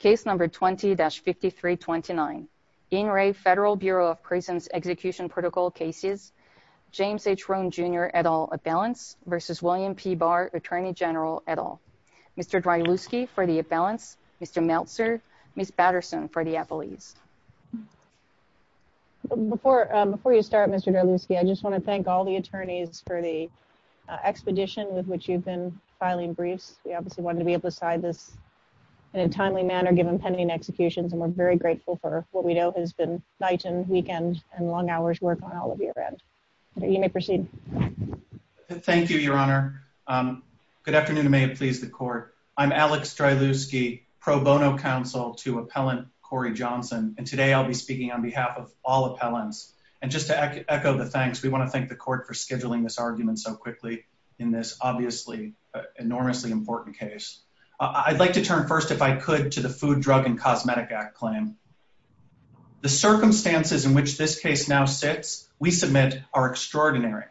James H. Rohn, Jr. et al. Abalance v. William P. Barr, Attorney General et al. Mr. Dreyluski for the Abalance, Mr. Meltzer, Ms. Patterson for the Appellees. Before you start, Mr. Dreyluski, I just want to thank all the attorneys for the expedition with which you've been filing briefs. We obviously wanted to be able to sign this in a timely manner. Given pending executions, and we're very grateful for what we know has been nights and weekends and long hours' work on all of your ends. You may proceed. Thank you, Your Honor. Good afternoon, and may it please the Court. I'm Alex Dreyluski, pro bono counsel to Appellant Corey Johnson, and today I'll be speaking on behalf of all appellants. And just to echo the thanks, we want to thank the Court for scheduling this argument so quickly in this obviously enormously important case. I'd like to turn first, if I could, to the Food, Drug, and Cosmetic Act claim. The circumstances in which this case now sits, we submit, are extraordinary.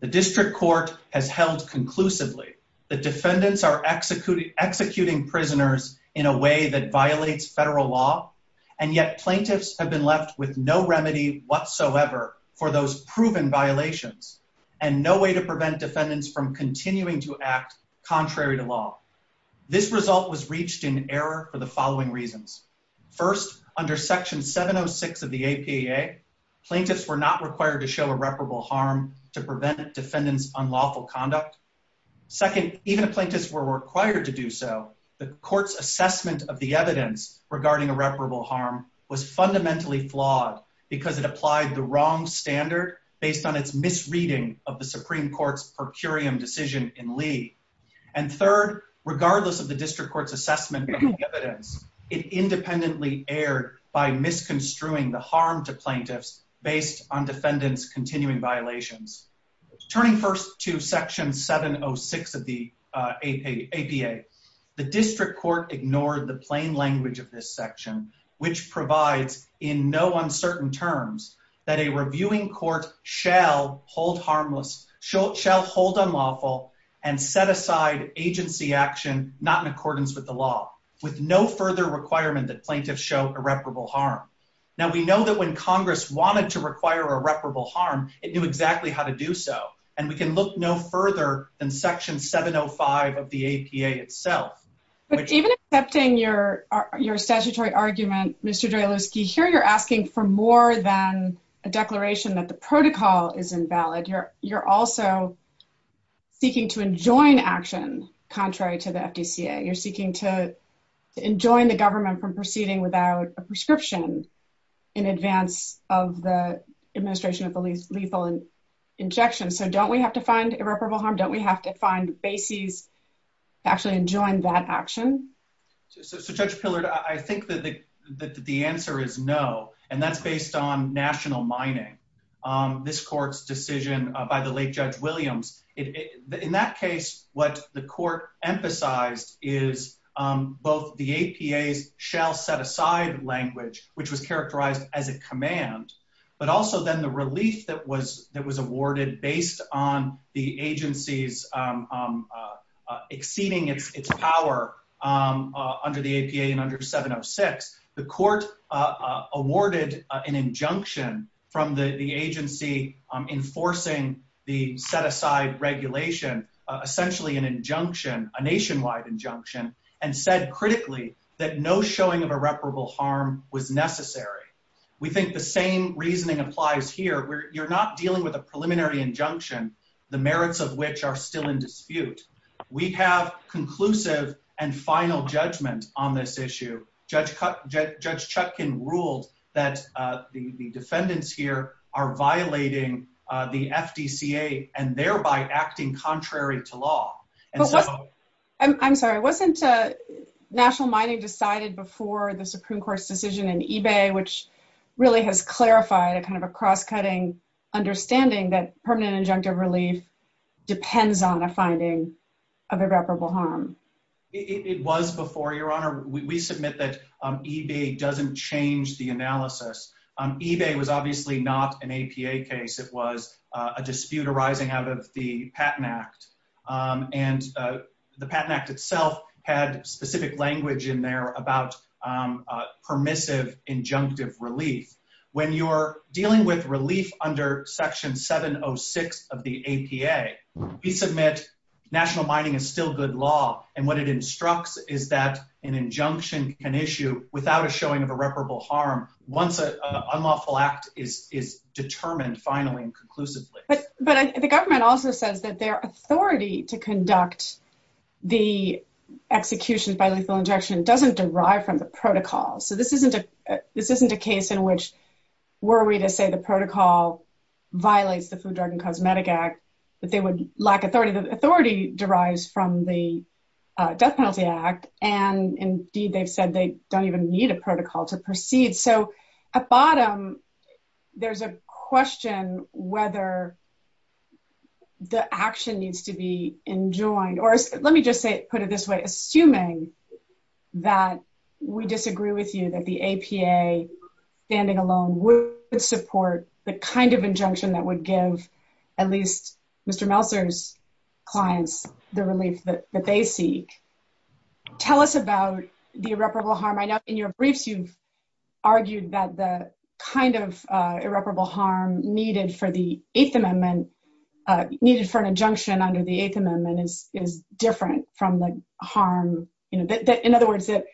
The district court has held conclusively that defendants are executing prisoners in a way that violates federal law, and yet plaintiffs have been left with no remedy whatsoever for those proven violations and no way to prevent defendants from continuing to act contrary to law. This result was reached in error for the following reasons. First, under Section 706 of the APAA, plaintiffs were not required to show irreparable harm to prevent defendants' unlawful conduct. Second, even if plaintiffs were required to do so, the Court's assessment of the evidence regarding irreparable harm was fundamentally flawed because it applied the wrong standard based on its misreading of the Supreme Court's per curiam decision in Lee. And third, regardless of the district court's assessment of the evidence, it independently erred by misconstruing the harm to plaintiffs based on defendants' continuing violations. Turning first to Section 706 of the APAA, the district court ignored the plain language of this section, which provides in no uncertain terms that a reviewing court shall hold unlawful and set aside agency action not in accordance with the law, with no further requirement that plaintiffs show irreparable harm. Now, we know that when Congress wanted to require irreparable harm, it knew exactly how to do so, and we can look no further than Section 705 of the APAA itself. But even accepting your statutory argument, Mr. Jalewski, here you're asking for more than a declaration that the protocol is invalid. You're also seeking to enjoin actions contrary to the FDCA. You're seeking to enjoin the government from proceeding without a prescription in advance of the administration of the lethal injection. So don't we have to find irreparable harm? Don't we have to find bases to actually enjoin that action? So, Judge Pillard, I think that the answer is no, and that's based on national mining, this court's decision by the late Judge Williams. In that case, what the court emphasized is both the APAA's shall set aside language, which was characterized as a command, but also then the release that was awarded based on the agency's exceeding its power under the APAA and under 706. The court awarded an injunction from the agency enforcing the set-aside regulation, essentially an injunction, a nationwide injunction, and said critically that no showing of irreparable harm was necessary. We think the same reasoning applies here. You're not dealing with a preliminary injunction, the merits of which are still in dispute. We have conclusive and final judgment on this issue. Judge Chutkin ruled that the defendants here are violating the FDCA and thereby acting contrary to law. I'm sorry, wasn't national mining decided before the Supreme Court's decision in eBay, which really has clarified a kind of a cross-cutting understanding that permanent injunctive relief depends on a finding of irreparable harm? It was before, Your Honor. We submit that eBay doesn't change the analysis. eBay was obviously not an APA case. It was a dispute arising out of the Patent Act, and the Patent Act itself had specific language in there about permissive injunctive relief. When you're dealing with relief under Section 706 of the APA, we submit national mining is still good law, and what it instructs is that an injunction can issue without a showing of irreparable harm once an unlawful act is determined finally and conclusively. But the government also says that their authority to conduct the execution by lethal injection doesn't derive from the protocol. So this isn't a case in which were we to say the protocol violates the Food, Drug, and Cosmetic Act, that they would lack authority. The authority derives from the Death Penalty Act, and indeed they've said they don't even need a protocol to proceed. So at bottom, there's a question whether the action needs to be enjoined, or let me just put it this way. Assuming that we disagree with you that the APA standing alone would support the kind of injunction that would give at least Mr. Meltzer's clients the relief that they seek, tell us about the irreparable harm. I know in your briefs you've argued that the kind of irreparable harm needed for the Eighth Amendment, needed for an injunction under the Eighth Amendment is different from the harm, in other words, that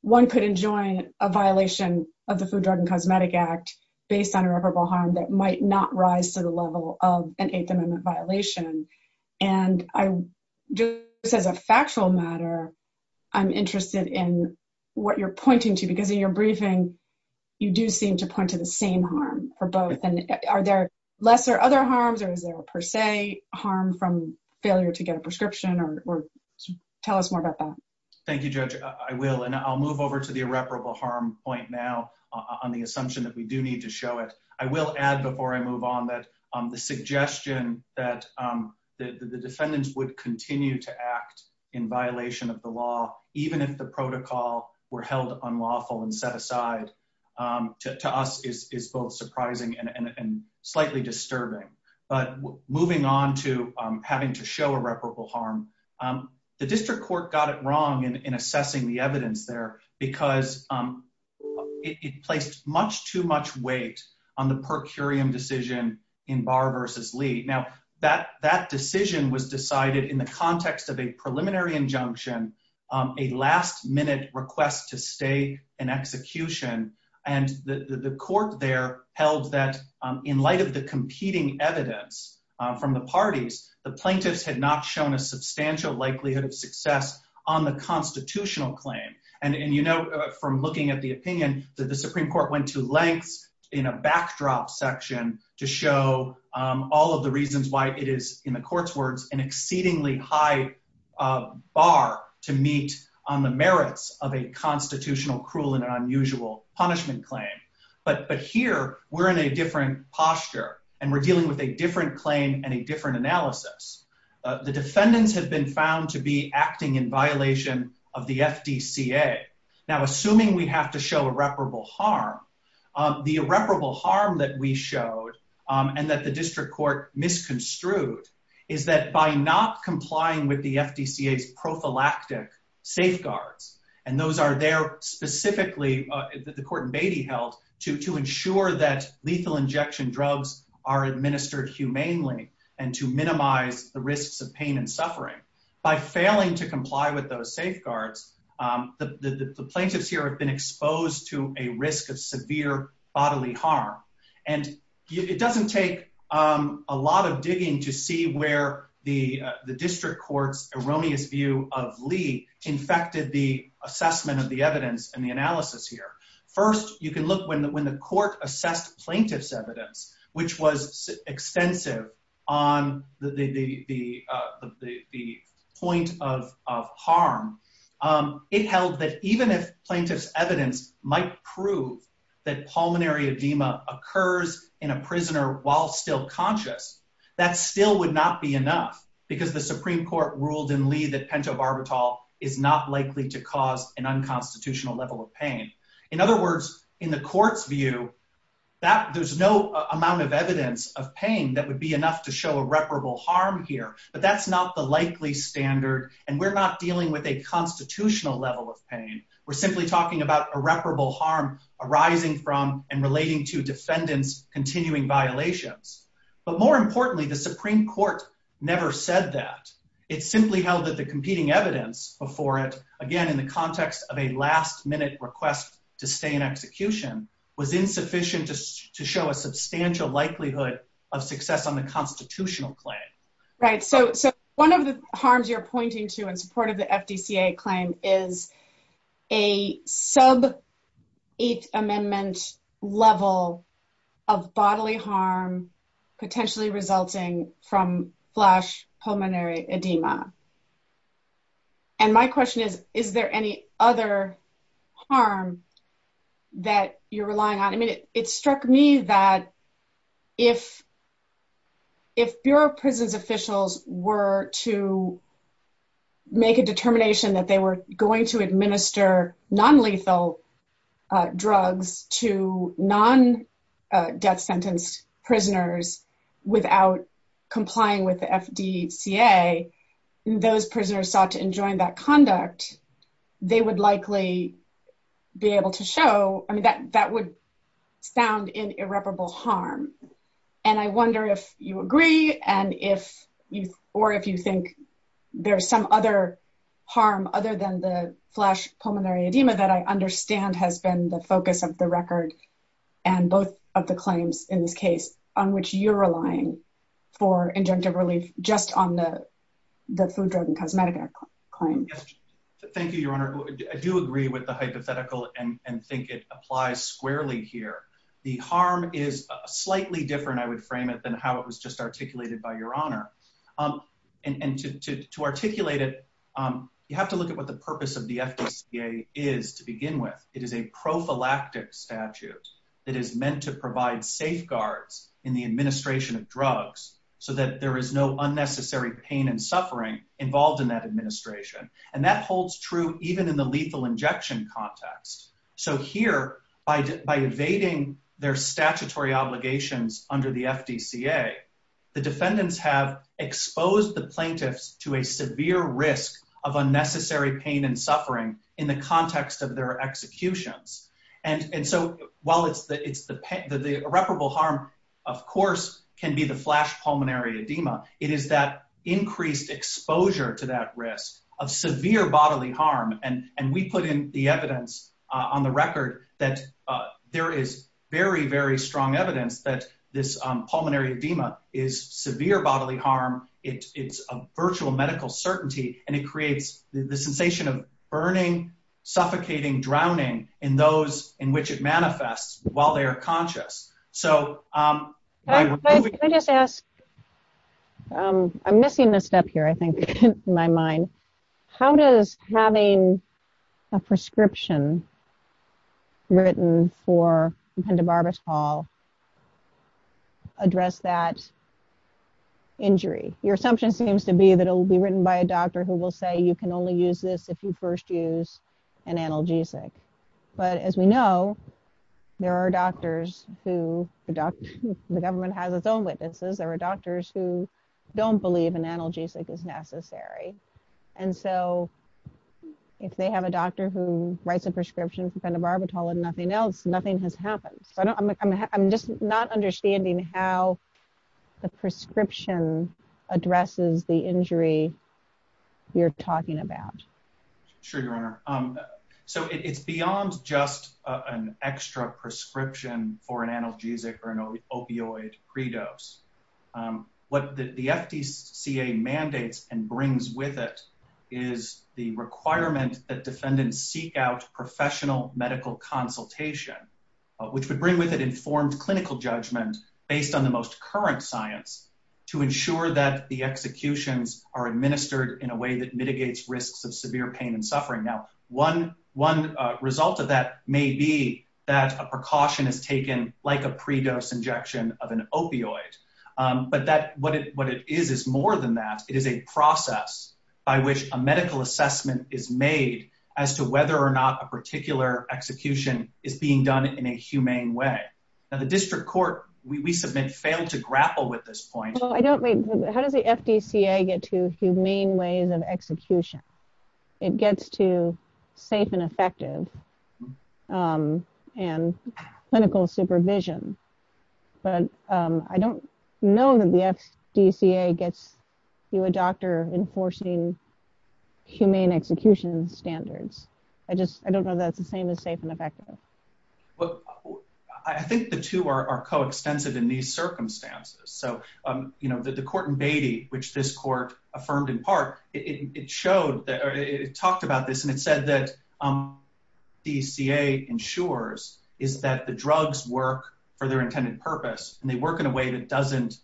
one could enjoin a violation of the Food, Drug, and Cosmetic Act based on irreparable harm that might not rise to the level of an Eighth Amendment violation. And just as a factual matter, I'm interested in what you're pointing to, because in your briefing, you do seem to point to the same harm for both. Are there lesser other harms, or is there per se harm from failure to get a prescription? Tell us more about that. Thank you, Judge. I will, and I'll move over to the irreparable harm point now on the assumption that we do need to show it. I will add before I move on that the suggestion that the defendants would continue to act in violation of the law, even if the protocol were held unlawful and set aside, to us is both surprising and slightly disturbing. But moving on to having to show irreparable harm, the district court got it wrong in assessing the evidence there, because it placed much too much weight on the per curiam decision in Barr v. Lee. Now, that decision was decided in the context of a preliminary injunction, a last-minute request to stay in execution. And the court there held that in light of the competing evidence from the parties, the plaintiffs had not shown a substantial likelihood of success on the constitutional claim. And you know from looking at the opinion that the Supreme Court went to length in a backdrop section to show all of the reasons why it is, in the court's words, an exceedingly high bar to meet on the merits of a constitutional cruel and unusual punishment claim. But here, we're in a different posture, and we're dealing with a different claim and a different analysis. The defendant has been found to be acting in violation of the FDCA. Now, assuming we have to show irreparable harm, the irreparable harm that we showed and that the district court misconstrued is that by not complying with the FDCA's prophylactic safeguards, and those are there specifically, the court in Beatty held, to ensure that lethal injection drugs are administered humanely and to minimize the risks of pain and suffering. By failing to comply with those safeguards, the plaintiffs here have been exposed to a risk of severe bodily harm. And it doesn't take a lot of digging to see where the district court's erroneous view of Lee infected the assessment of the evidence and the analysis here. First, you can look when the court assessed plaintiff's evidence, which was extensive on the point of harm, it held that even if plaintiff's evidence might prove that pulmonary edema occurs in a prisoner while still conscious, that still would not be enough because the Supreme Court ruled in Lee that pentobarbital is not likely to cause an unconstitutional level of pain. In other words, in the court's view, there's no amount of evidence of pain that would be enough to show irreparable harm here. But that's not the likely standard, and we're not dealing with a constitutional level of pain. We're simply talking about irreparable harm arising from and relating to descendant's continuing violations. But more importantly, the Supreme Court never said that. It simply held that the competing evidence before it, again, in the context of a last-minute request to stay in execution, was insufficient to show a substantial likelihood of success on the constitutional claim. So one of the harms you're pointing to in support of the FDCA claim is a sub-Eighth Amendment level of bodily harm potentially resulting from flash pulmonary edema. And my question is, is there any other harm that you're relying on? It struck me that if Bureau of Prisons officials were to make a determination that they were going to administer non-lethal drugs to non-death sentence prisoners without complying with the FDCA, those prisoners sought to enjoin that conduct, they would likely be able to show, I mean, that would sound in irreparable harm. And I wonder if you agree or if you think there's some other harm other than the flash pulmonary edema that I understand has been the focus of the record and both of the claims in this case on which you're relying for injunctive relief just on the food, drug, and cosmetic claims. Thank you, Your Honor. I do agree with the hypothetical and think it applies squarely here. The harm is slightly different, I would frame it, than how it was just articulated by Your Honor. And to articulate it, you have to look at what the purpose of the FDCA is to begin with. It is a prophylactic statute that is meant to provide safeguards in the administration of drugs so that there is no unnecessary pain and suffering involved in that administration. And that holds true even in the lethal injection context. So here, by evading their statutory obligations under the FDCA, the defendants have exposed the plaintiffs to a severe risk of unnecessary pain and suffering in the context of their executions. And so while the irreparable harm, of course, can be the flash pulmonary edema, it is that increased exposure to that risk of severe bodily harm. And we put in the evidence on the record that there is very, very strong evidence that this pulmonary edema is severe bodily harm. It's a virtual medical certainty and it creates the sensation of burning, suffocating, drowning in those in which it manifests while they are conscious. Can I just ask, I'm missing a step here, I think, in my mind. How does having a prescription written for dependent barbershop address that injury? Your assumption seems to be that it will be written by a doctor who will say you can only use this if you first use an analgesic. But as we know, there are doctors who, the government has its own witnesses, there are doctors who don't believe an analgesic is necessary. And so if they have a doctor who writes a prescription for dependent barbershop and nothing else, nothing has happened. I'm just not understanding how the prescription addresses the injury you're talking about. Sure, Your Honor. So it's beyond just an extra prescription for an analgesic or an opioid pre-dose. What the FDCA mandates and brings with it is the requirement that defendants seek out professional medical consultation, which would bring with it informed clinical judgments based on the most current science to ensure that the executions are administered in a way that mitigates risks of severe pain and suffering. Now, one result of that may be that a precaution is taken like a pre-dose injection of an opioid. But what it is is more than that. It is a process by which a medical assessment is made as to whether or not a particular execution is being done in a humane way. Now, the district court, we submit, failed to grapple with this point. How does the FDCA get to humane ways of execution? It gets to safe and effective and clinical supervision. But I don't know that the FDCA gets to a doctor enforcing humane execution standards. I don't know that that's the same as safe and effective. Well, I think the two are coextensive in these circumstances. So, you know, the court in Beatty, which this court affirmed in part, it showed, it talked about this, and it said that what the FDCA ensures is that the drugs work for their intended purpose, and they work in a way that doesn't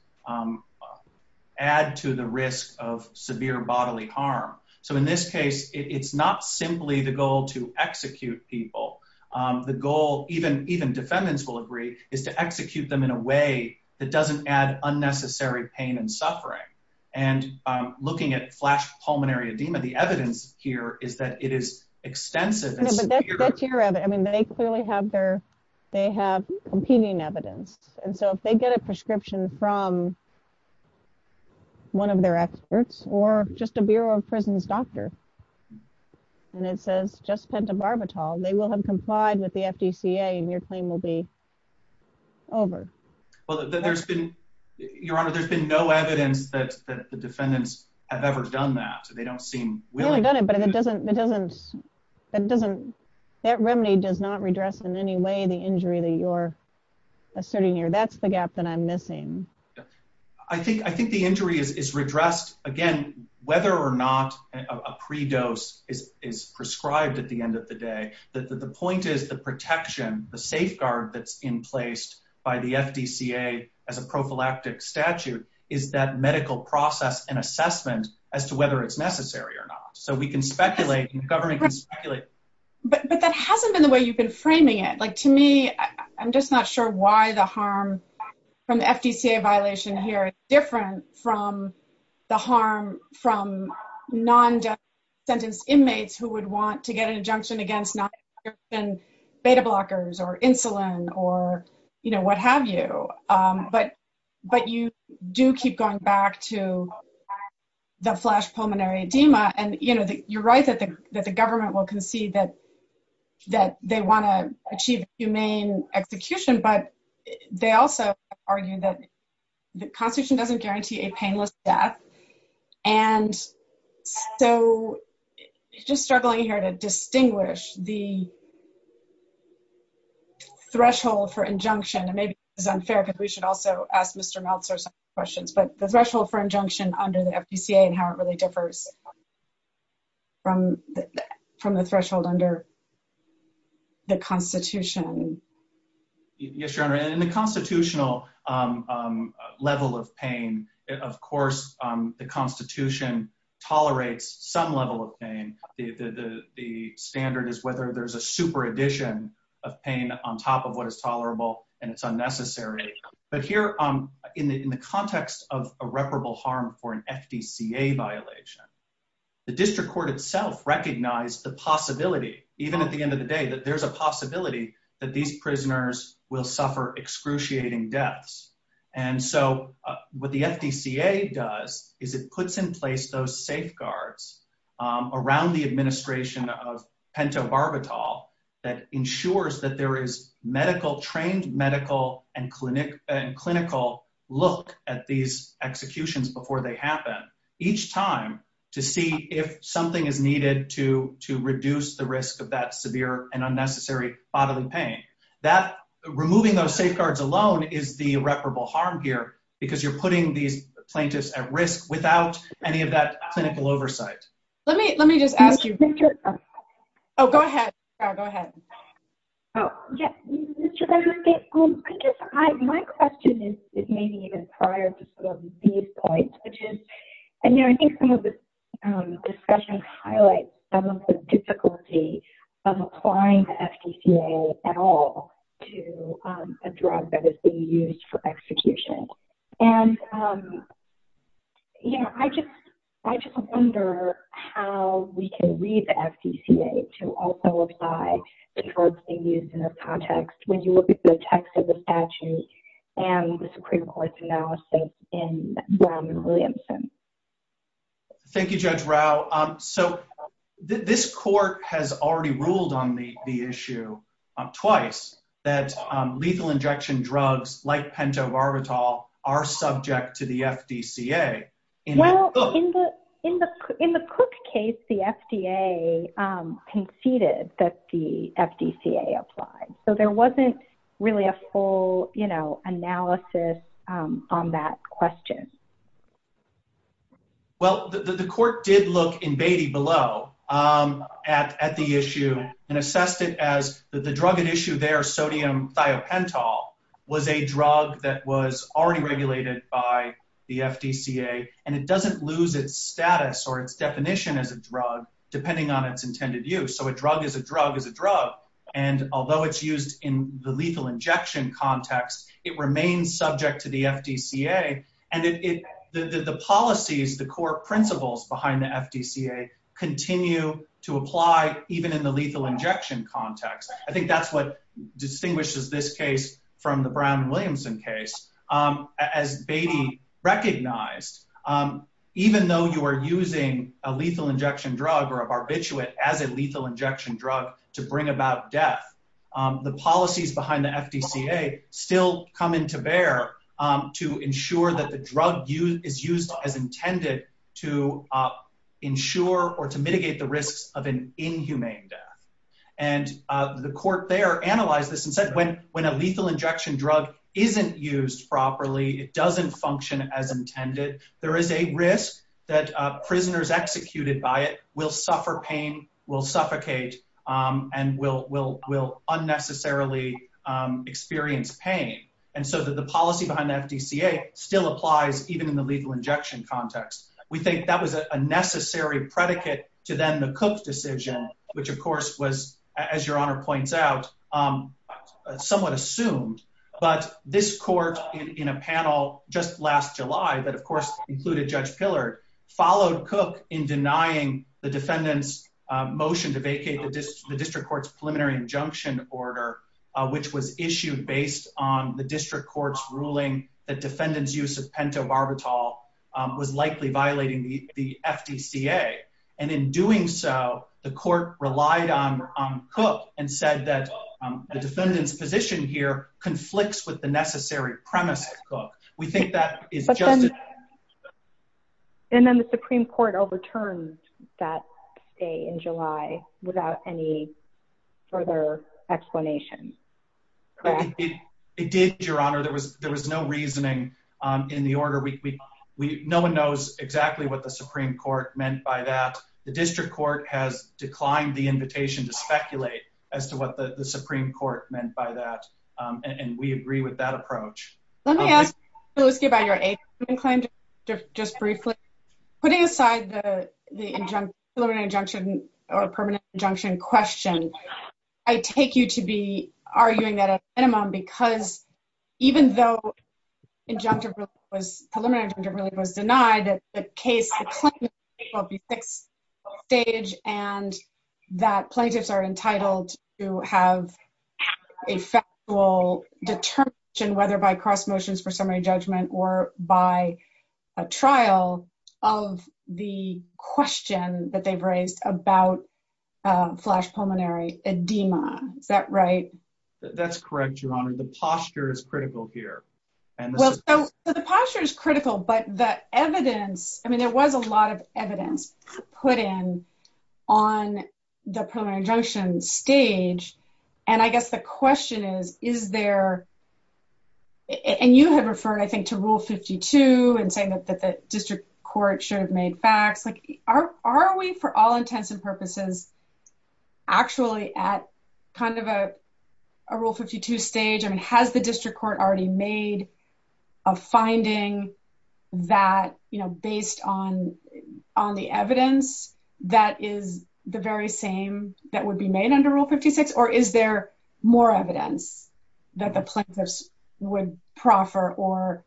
add to the risk of severe bodily harm. So in this case, it's not simply the goal to execute people. The goal, even defendants will agree, is to execute them in a way that doesn't add unnecessary pain and suffering. And looking at flash pulmonary edema, the evidence here is that it is extensive. That's your evidence. I mean, they clearly have their, they have competing evidence. And so if they get a prescription from one of their experts or just a Bureau of Prisons doctor, and it says just pentobarbital, they will have complied with the FDCA, and your claim will be over. Well, there's been, Your Honor, there's been no evidence that the defendants have ever done that. They don't seem willing to. That remedy does not redress in any way the injury that you're asserting here. That's the gap that I'm missing. I think the injury is redressed, again, whether or not a pre-dose is prescribed at the end of the day. The point is the protection, the safeguard that's in place by the FDCA as a prophylactic statute is that medical process and assessment as to whether it's necessary or not. So we can speculate and government can speculate. But that hasn't been the way you've been framing it. Like, to me, I'm just not sure why the harm from the FDCA violation here is different from the harm from non-sentenced inmates who would want to get an injunction against not prescription beta blockers or insulin or, you know, what have you. But you do keep going back to the flash pulmonary edema. And, you know, you're right that the government will concede that they want to achieve humane execution. But they also argue that the constitution doesn't guarantee a painless death. And so it's just struggling here to distinguish the threshold for injunction. And maybe it's unfair because we should also ask Mr. Meltzer some questions. But the threshold for injunction under the FDCA and how it really differs from the threshold under the constitution. Yes, Your Honor. In the constitutional level of pain, of course, the constitution tolerates some level of pain. The standard is whether there's a supervision of pain on top of what is tolerable and it's unnecessary. But here in the context of irreparable harm for an FDCA violation, the district court itself recognized the possibility, even at the end of the day, that there's a possibility that these prisoners will suffer excruciating deaths. And so what the FDCA does is it puts in place those safeguards around the administration of pentobarbital that ensures that there is medical, trained medical and clinical look at these executions before they happen each time to see if something is needed to reduce the risk of that severe and unnecessary bodily pain. Removing those safeguards alone is the irreparable harm here because you're putting these plaintiffs at risk without any of that clinical oversight. Let me just add to that. Oh, go ahead. Oh, yeah. My question is maybe even prior to some of these points, which is, you know, I think some of this discussion highlights some of the difficulty of applying the FDCA at all to a drug that is being used for execution. And, you know, I just wonder how we can read the FDCA to also apply the drugs being used in this context when you look at the text of the statute and the Supreme Court's analysis in Brown v. Williamson. Thank you, Judge Rao. So this court has already ruled on the issue twice that lethal injection drugs like pentobarbital are subject to the FDCA. Well, in the Cook case, the FDA conceded that the FDCA applied. So there wasn't really a full, you know, analysis on that question. Well, the court did look in Beatty below at the issue and assessed it as the drug at issue there, sodium thiopental, was a drug that was already regulated by the FDCA, and it doesn't lose its status or its definition as a drug depending on its intended use. So a drug is a drug is a drug, and although it's used in the lethal injection context, it remains subject to the FDCA, and the policies, the core principles behind the FDCA continue to apply even in the lethal injection context. I think that's what distinguishes this case from the Brown and Williamson case. As Beatty recognized, even though you are using a lethal injection drug or a barbiturate as a lethal injection drug to bring about death, the policies behind the FDCA still come into bear to ensure that the drug is used as intended to ensure or to mitigate the risk of an inhumane death. And the court there analyzed this and said when a lethal injection drug isn't used properly, it doesn't function as intended, there is a risk that prisoners executed by it will suffer pain, will suffocate, and will unnecessarily experience pain. And so the policy behind the FDCA still applies even in the lethal injection context. We think that was a necessary predicate to then the Cook decision, which of course was, as your Honor points out, somewhat assumed. But this court in a panel just last July, that of course included Judge Pillard, followed Cook in denying the defendant's motion to vacate the district court's preliminary injunction order, which was issued based on the district court's ruling that defendant's use of pentobarbital was likely violating the FDCA. And in doing so, the court relied on Cook and said that the defendant's position here conflicts with the necessary premise of Cook. We think that is justifiable. And then the Supreme Court overturned that day in July without any further explanation. It did, Your Honor. There was no reasoning in the order. No one knows exactly what the Supreme Court meant by that. The district court has declined the invitation to speculate as to what the Supreme Court meant by that. And we agree with that approach. Let me ask you about your eighth inclination, just briefly. Putting aside the preliminary injunction or permanent injunction question, I take you to be arguing that at a minimum because even though preliminary injunction really was denied, that the plaintiff's case will be fixed on stage and that plaintiffs are entitled to have a factual determination whether by cross motions for summary judgment or by a trial of the question that they've raised about flash pulmonary edema. Is that right? That's correct, Your Honor. The posture is critical here. The posture is critical, but the evidence, I mean, there was a lot of evidence put in on the preliminary injunction stage. And I guess the question is, is there, and you have referred, I think, to Rule 52 and saying that the district court should have made facts. Are we, for all intents and purposes, actually at kind of a Rule 52 stage? I mean, has the district court already made a finding that, you know, based on the evidence that is the very same that would be made under Rule 56? Or is there more evidence that the plaintiffs would proffer or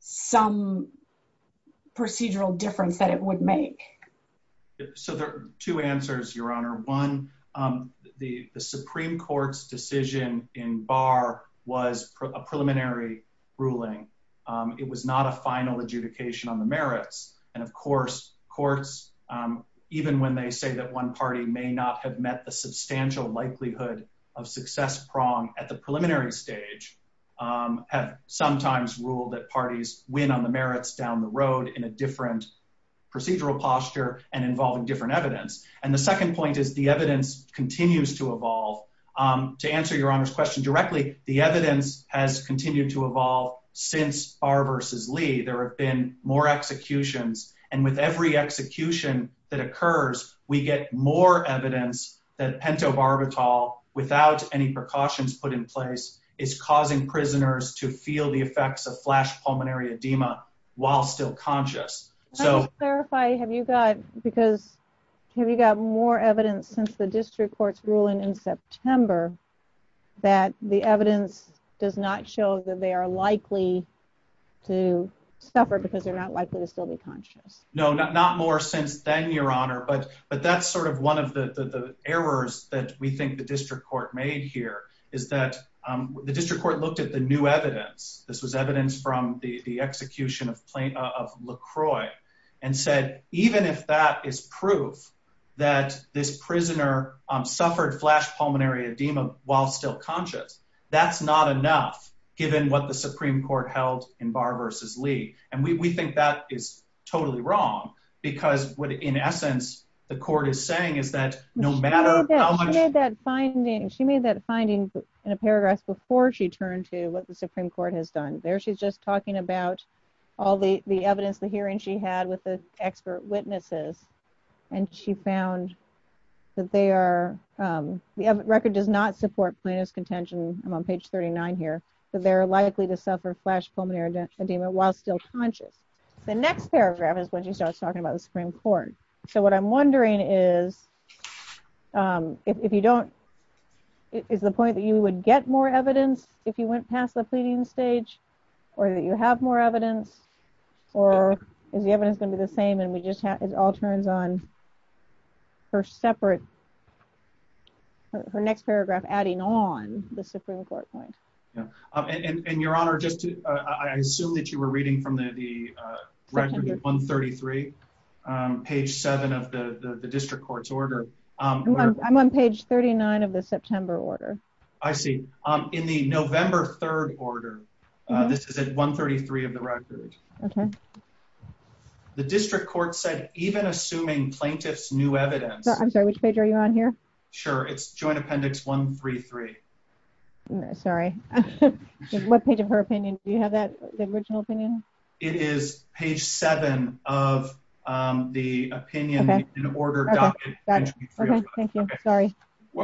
some procedural difference that it would make? So there are two answers, Your Honor. One, the Supreme Court's decision in Barr was a preliminary ruling. It was not a final adjudication on the merits. And of course, courts, even when they say that one party may not have met the substantial likelihood of success prong at the preliminary stage, have sometimes ruled that parties win on the merits down the road in a different procedural posture and involving different evidence. And the second point is the evidence continues to evolve. To answer Your Honor's question directly, the evidence has continued to evolve since Barr v. Lee. There have been more executions. And with every execution that occurs, we get more evidence that pentobarbital, without any precautions put in place, is causing prisoners to feel the effects of flash pulmonary edema while still conscious. Can I clarify, have you got more evidence since the district court's ruling in September that the evidence does not show that they are likely to suffer because they're not likely to still be conscious? No, not more since then, Your Honor. But that's sort of one of the errors that we think the district court made here is that the district court looked at the new evidence. This was evidence from the execution of LaCroix and said, even if that is proof that this prisoner suffered flash pulmonary edema while still conscious, that's not enough, given what the Supreme Court held in Barr v. Lee. And we think that is totally wrong because what, in essence, the court is saying is that no matter how many— The next paragraph is when she starts talking about the Supreme Court. So what I'm wondering is, if you don't—is the point that you would get more evidence if you went past the pleading stage, or that you have more evidence, or is the evidence going to be the same and it all turns on her separate—her next paragraph adding on the Supreme Court point? And, Your Honor, I assume that you were reading from the record at 133, page 7 of the district court's order. I'm on page 39 of the September order. I see. In the November 3rd order, this is at 133 of the record. Okay. The district court said, even assuming plaintiff's new evidence— I'm sorry, which page are you on here? Sure, it's Joint Appendix 133. Sorry. What page of her opinion? Do you have that, the original opinion? It is page 7 of the opinion in order document. Okay, thank you. Sorry.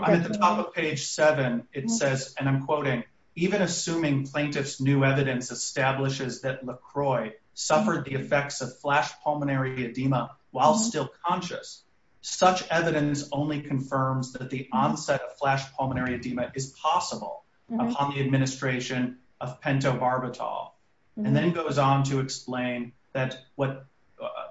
At the top of page 7, it says, and I'm quoting, Even assuming plaintiff's new evidence establishes that LaCroix suffered the effects of flash pulmonary edema while still conscious, such evidence only confirms that the onset of flash pulmonary edema is possible upon the administration of pentobarbital. And then it goes on to explain that what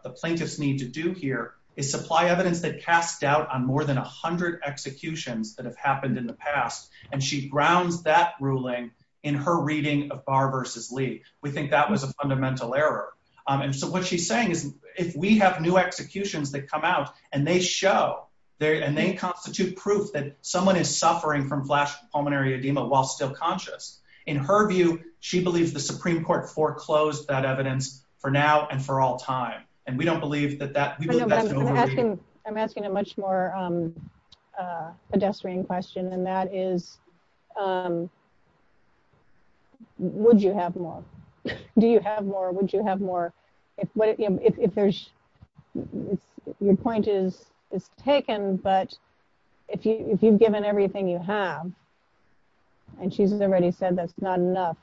the plaintiffs need to do here is supply evidence that casts doubt on more than 100 executions that have happened in the past. And she grounds that ruling in her reading of Barr v. Lee. We think that was a fundamental error. And so what she's saying is, we have new executions that come out, and they show, and they constitute proof that someone is suffering from flash pulmonary edema while still conscious. In her view, she believes the Supreme Court foreclosed that evidence for now and for all time. I'm asking a much more pedestrian question, and that is, would you have more? Do you have more? Would you have more? Your point is taken, but if you've given everything you have, and she's already said that's not enough,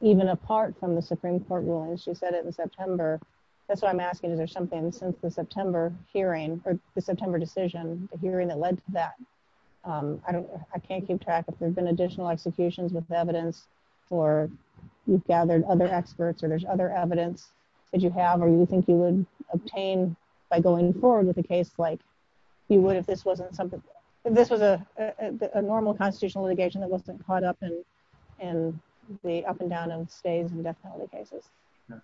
even apart from the Supreme Court ruling. She said it in September. That's why I'm asking, is there something since the September hearing, or the September decision, the hearing that led to that? I can't keep track. If there's been additional executions with evidence, or you've gathered other experts, or there's other evidence that you have, or you think you would obtain by going forward with a case like you would if this was a normal constitutional litigation that wasn't caught up in the up-and-down-and-stays-and-death penalty cases.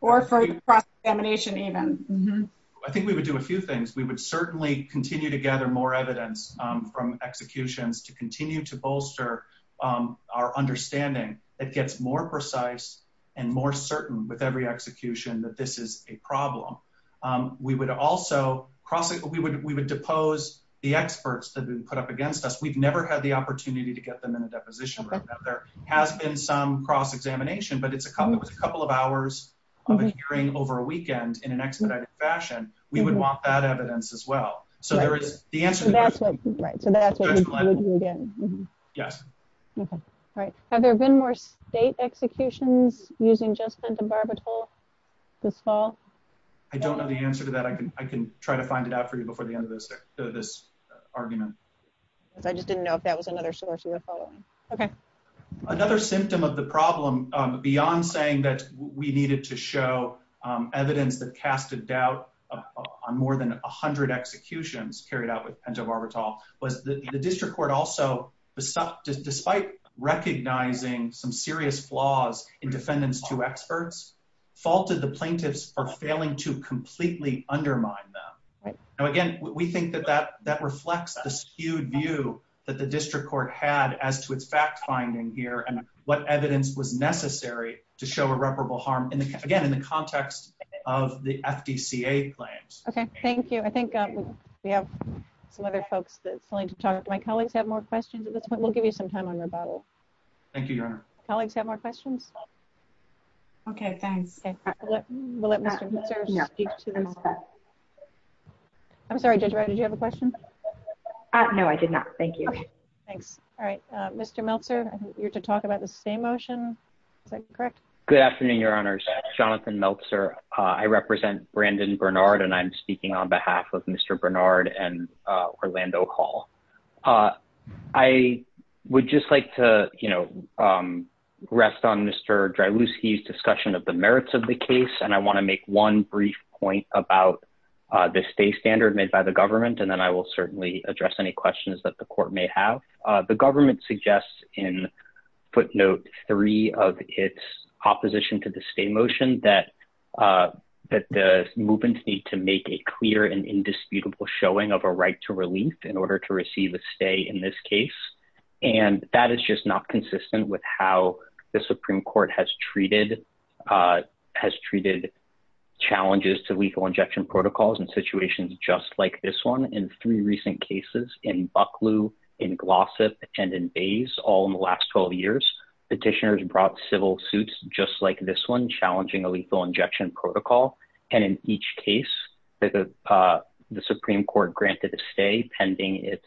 Or for cross-examination, even. I think we would do a few things. We would certainly continue to gather more evidence from executions to continue to bolster our understanding that gets more precise and more certain with every execution that this is a problem. We would also cross-examine. We would depose the experts that have been put up against us. We've never had the opportunity to get them in a deposition like that. There has been some cross-examination, but it's a couple of hours of a string over a weekend in an expedited fashion. We would want that evidence as well. Have there been more state executions using just sent the barbital this fall? I don't know the answer to that. I can try to find it out for you before the end of this argument. I just didn't know if that was another source you were following. Another symptom of the problem, beyond saying that we needed to show evidence that cast a doubt on more than 100 executions carried out with pent-up barbital, was that the district court also, despite recognizing some serious flaws in defendants to experts, faulted the plaintiffs for failing to completely undermine them. Again, we think that that reflects the skewed view that the district court had as to its fact-finding here and what evidence was necessary to show irreparable harm, again, in the context of the FDCA claims. Okay, thank you. I think we have some other folks that want to talk. Do my colleagues have more questions at this point? We'll give you some time on the bottle. Thank you, Your Honor. Colleagues have more questions? Okay, fine. I'm sorry, did you have a question? No, I did not. Thank you. Thanks. All right, Mr. Meltzer, I think you're to talk about the stay motion. Is that correct? Good afternoon, Your Honors. Jonathan Meltzer. I represent Brandon Bernard, and I'm speaking on behalf of Mr. Bernard and Orlando Hall. I would just like to, you know, rest on Mr. Driluski's discussion of the merits of the case, and I want to make one brief point about the stay standard made by the government, and then I will certainly address any questions that the court may have. The government suggests in footnote three of its opposition to the stay motion that the movements need to make a clear and indisputable showing of a right to relief in order to receive a stay in this case, and that is just not consistent with how the Supreme Court has treated challenges to lethal injection protocols in situations just like this one. In three recent cases, in Bucklew, in Glossop, and in Bays, all in the last 12 years, petitioners brought civil suits just like this one challenging a lethal injection protocol, and in each case, the Supreme Court granted a stay pending its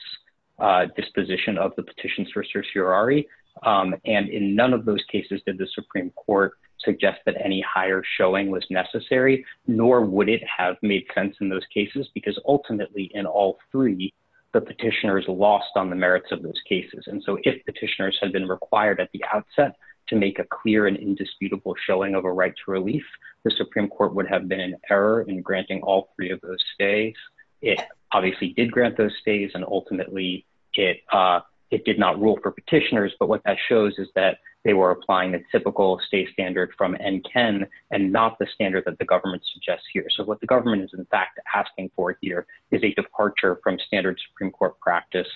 disposition of the petitions for certiorari, and in none of those cases did the Supreme Court suggest that any higher showing was necessary, nor would it have made sense in those cases because ultimately in all three, the petitioners lost on the merits of those cases, and so if petitioners had been required at the outset to make a clear and indisputable showing of a right to relief, the Supreme Court would have been in error in granting all three of those stays. It obviously did grant those stays, and ultimately it did not rule for petitioners, but what that shows is that they were applying a typical stay standard from NKEN and not the standard that the government suggests here, so what the government is in fact asking for here is a departure from standard Supreme Court practice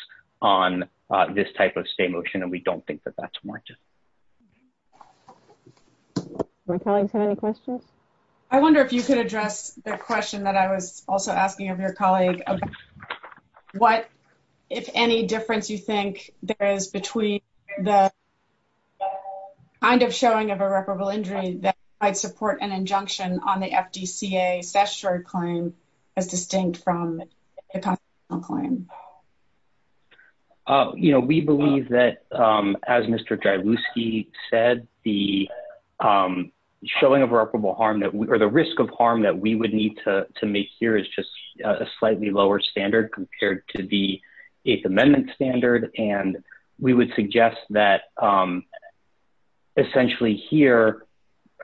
on this type of stay motion, and we don't think that that's warranted. Does my colleague have any questions? I wonder if you could address the question that I was also asking of your colleague of what, if any, difference you think there is between the kind of showing of irreparable injury that might support an injunction on the FDCA cestiorari claim that's distinct from the constitutional claim. You know, we believe that, as Mr. Jalewski said, the showing of irreparable harm, or the risk of harm that we would need to make here is just a slightly lower standard compared to the Eighth Amendment standard, and we would suggest that essentially here,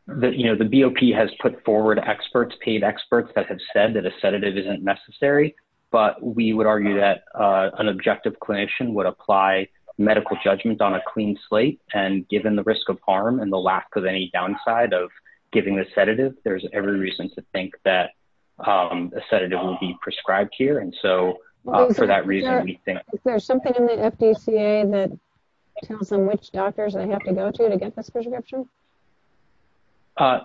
you know, the BOP has put forward experts, paid experts, that have said that a sedative isn't necessary, but we would argue that an objective clinician would apply medical judgments on a clean slate, and given the risk of harm and the lack of any downside of giving the sedative, there's every reason to think that a sedative would be prescribed here, and so for that reason, we think. Is there something in the FDCA that counts on which doctors they have to go to to get this prescription?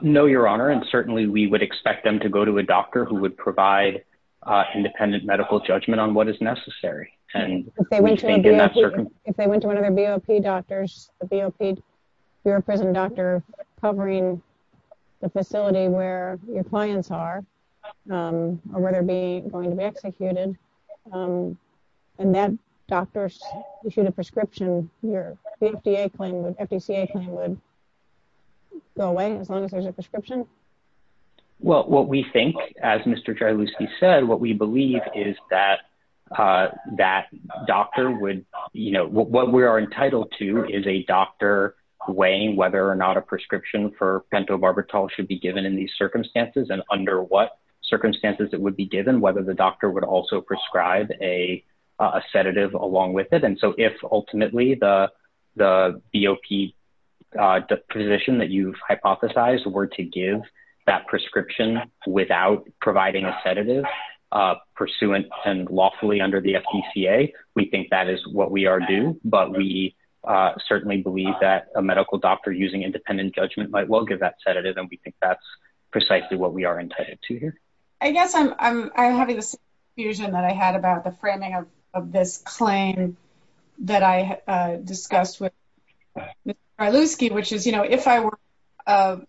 No, Your Honor, and certainly we would expect them to go to a doctor who would provide independent medical judgment on what is necessary, and we think in that circumstance. If they went to one of the BOP doctors, the BOP, your prison doctor, covering the facility where your clients are, or where they're going to be executed, and that doctor issued a prescription, your FDCA claim would go away as long as there's a prescription? Well, what we think, as Mr. Jarlouski said, what we believe is that that doctor would, you know, what we are entitled to is a doctor weighing whether or not a prescription for pentobarbital should be given in these circumstances and under what circumstances it would be given, whether the doctor would also prescribe a sedative along with it, and so if ultimately the BOP position that you've hypothesized were to give that prescription without providing a sedative pursuant and lawfully under the FDCA, we think that is what we are due, but we certainly believe that a medical doctor using independent judgment might well give that sedative, and we think that's precisely what we are entitled to here. I guess I'm having this confusion that I had about the framing of this claim that I discussed with Mr. Jarlouski, which is, you know, if I were an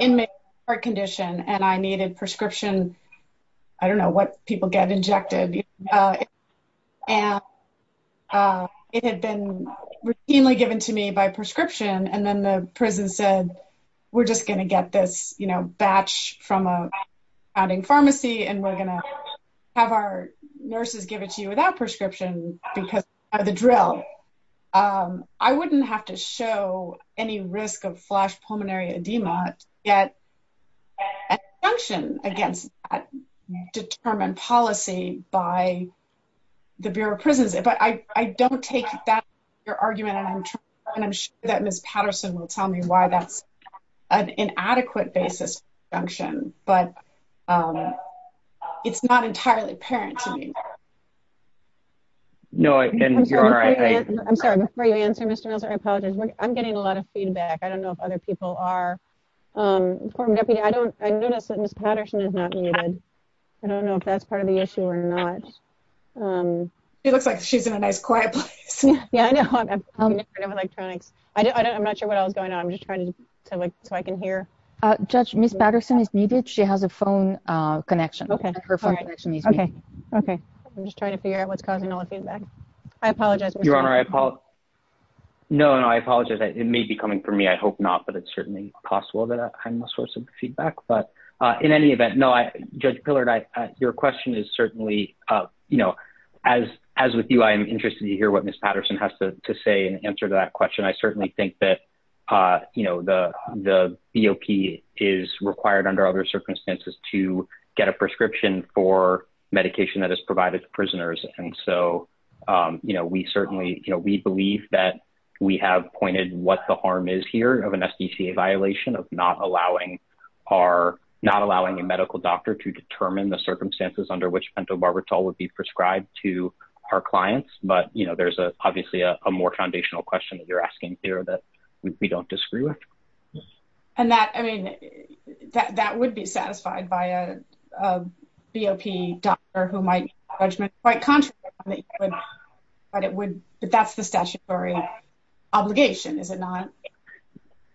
inmate with a heart condition and I needed prescription, I don't know what people get injected, and it had been routinely given to me by prescription, and then the prison said, we're just going to get this, you know, batch from a founding pharmacy and we're going to have our nurses give it to you without prescription because of the drill. I wouldn't have to show any risk of flash pulmonary edema to get an assumption against that determined policy by the Bureau of Prisons, but I don't take that as your argument, and I'm sure that Ms. Patterson will tell me why that's an inadequate basis for assumption, but it's not entirely apparent to me. No, and you're right. I'm sorry, before you answer, Mr. Jarlouski, I apologize. I'm getting a lot of feedback. I don't know if other people are. I know that Ms. Patterson is not muted. I don't know if that's part of the issue or not. It looks like she's in a nice quiet place. Yeah, I know. I'm not sure what else is going on. I'm just trying to see if I can hear. Judge, Ms. Patterson is muted. She has a phone connection. Okay. I'm just trying to figure out what's causing all the feedback. I apologize. Your Honor, I apologize. No, no, I apologize. It may be coming from me. I hope not, but it's certainly possible that I'm a source of feedback, but in any event, no, Judge Pillard, your question is certainly, you know, as with you, I am interested to hear what Ms. Patterson has to say in answer to that question. I certainly think that, you know, the BOP is required under other circumstances to get a prescription for medication that is provided to prisoners. And so, you know, we certainly, you know, we believe that we have pointed what the harm is here of an SBCA violation of not allowing our, not allowing a medical doctor to determine the circumstances under which pentobarbital would be prescribed to our clients. But, you know, there's obviously a more foundational question that you're asking here that we don't disagree with. And that, I mean, that would be satisfied by a BOP doctor who might be quite conscious of it, but it would, but that's the statutory obligation, is it not?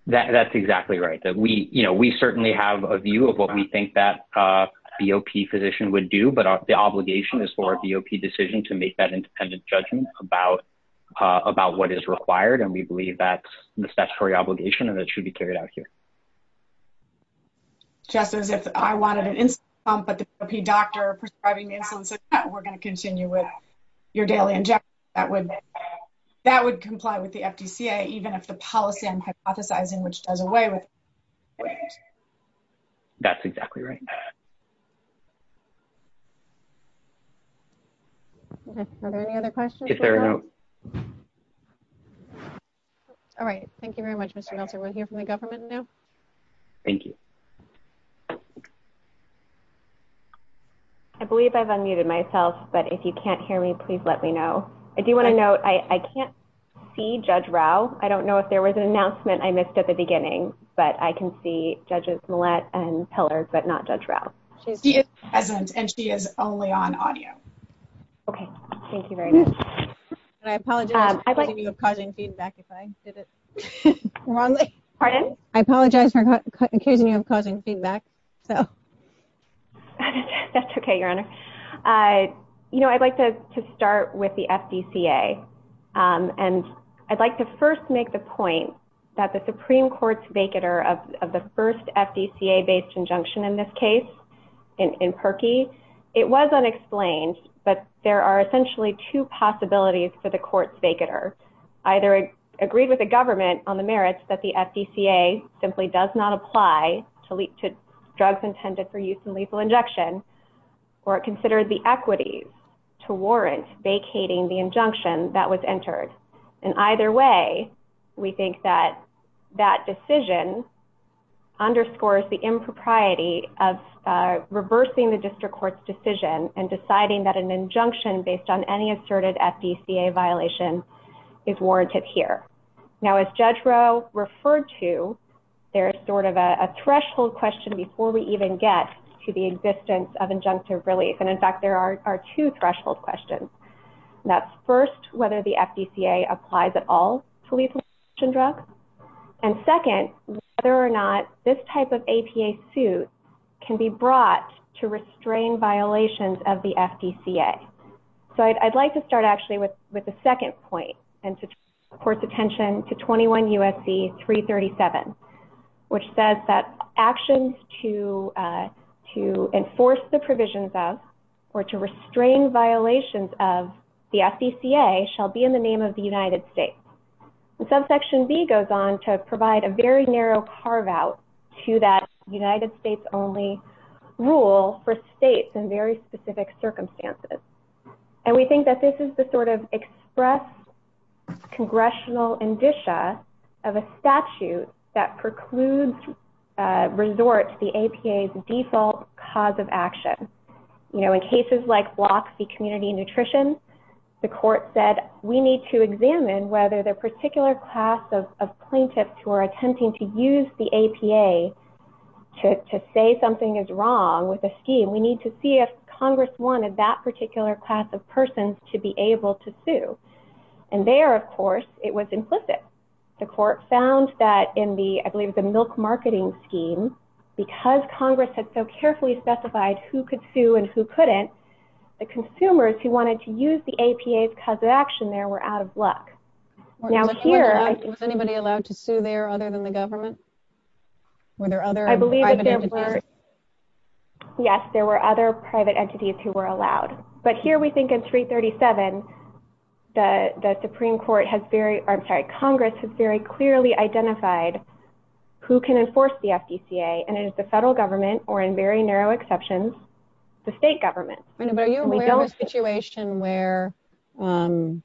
That's exactly right. We, you know, we certainly have a view of what we think that a BOP physician would do, but the obligation is for a BOP decision to make that independent judgment about what is required, and we believe that's the statutory obligation and it should be carried out here. Jess, if I wanted an instant bump at the BOP doctor prescribing the insulin, we're going to continue with your daily injections. That would comply with the FDCA, even if the policy I'm hypothesizing which does away with it. That's exactly right. Are there any other questions? All right. Thank you very much, Mr. Nelson. We'll hear from the government now. Thank you. I believe I've unmuted myself, but if you can't hear me, please let me know. I do want to note, I can't see Judge Rao. I don't know if there was an announcement I missed at the beginning, but I can see Judges Millett and Pillar, but not Judge Rao. She is present, and she is only on audio. Okay. Thank you very much. I apologize for causing feedback, if I did it wrong. Pardon? I apologize for occasionally causing feedback. That's okay, Your Honor. You know, I'd like to start with the FDCA, and I'd like to first make the point that the Supreme Court's vacater of the first FDCA-based injunction in this case, in Perkey, it was unexplained, but there are essentially two possibilities for the court's vacater. Either agree with the government on the merits that the FDCA simply does not apply to drugs intended for use in lethal injection, or consider the equities to warrant vacating the injunction that was entered. In either way, we think that that decision underscores the impropriety of reversing the district court's decision and deciding that an injunction based on any asserted FDCA violation is warranted here. Now, as Judge Rao referred to, there's sort of a threshold question before we even get to the existence of injunctive relief, and, in fact, there are two threshold questions. That's first, whether the FDCA applies at all to lethal injection drugs, and second, whether or not this type of APA suit can be brought to restrain violations of the FDCA. So I'd like to start actually with the second point and to turn the court's attention to 21 U.S.C. 337, which says that actions to enforce the provisions of or to restrain violations of the FDCA shall be in the name of the United States. Subsection B goes on to provide a very narrow carve-out to that United States-only rule for states in very specific circumstances, and we think that this is the sort of express congressional indicia of a statute that precludes resort to the APA's default cause of action. You know, in cases like block C community nutrition, the court said, we need to examine whether the particular class of plaintiffs who are attempting to use the APA to say something is wrong with a scheme, we need to see if Congress wanted that particular class of persons to be able to sue. And there, of course, it was implicit. The court found that in the, I believe, the milk marketing scheme, because Congress had so carefully specified who could sue and who couldn't, the consumers who wanted to use the APA's cause of action there were out of luck. Now here... Was anybody allowed to sue there other than the government? Were there other private entities? Yes, there were other private entities who were allowed. But here we think in 337, the Supreme Court has very, I'm sorry, Congress has very clearly identified who can enforce the FDCA, and it is the federal government, or in very narrow exceptions, the state government. Are you aware of a situation where, I mean,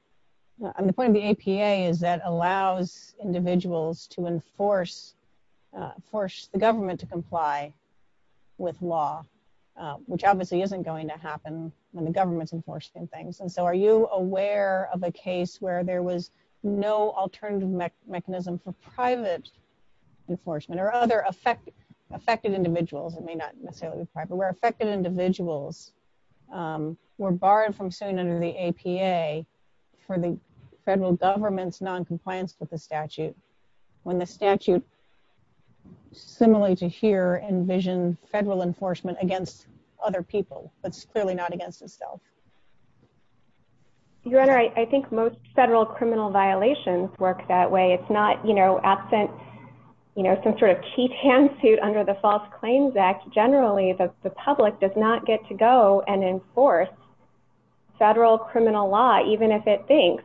the point of the APA is that it allows individuals to enforce, force the government to comply with law, which obviously isn't going to happen when the government's enforcing things. And so are you aware of a case where there was no alternative mechanism for private enforcement, or other affected individuals, I mean, not necessarily private, where affected individuals were barred from suing under the APA for the federal government's noncompliance with the statute, when the statute, similarly to here, envisions federal enforcement against other people? That's clearly not against itself. Your Honor, I think most federal criminal violations work that way. It's not, you know, absent, you know, some sort of cheap hand suit under the False Claims Act. Generally, the public does not get to go and enforce federal criminal law, even if it thinks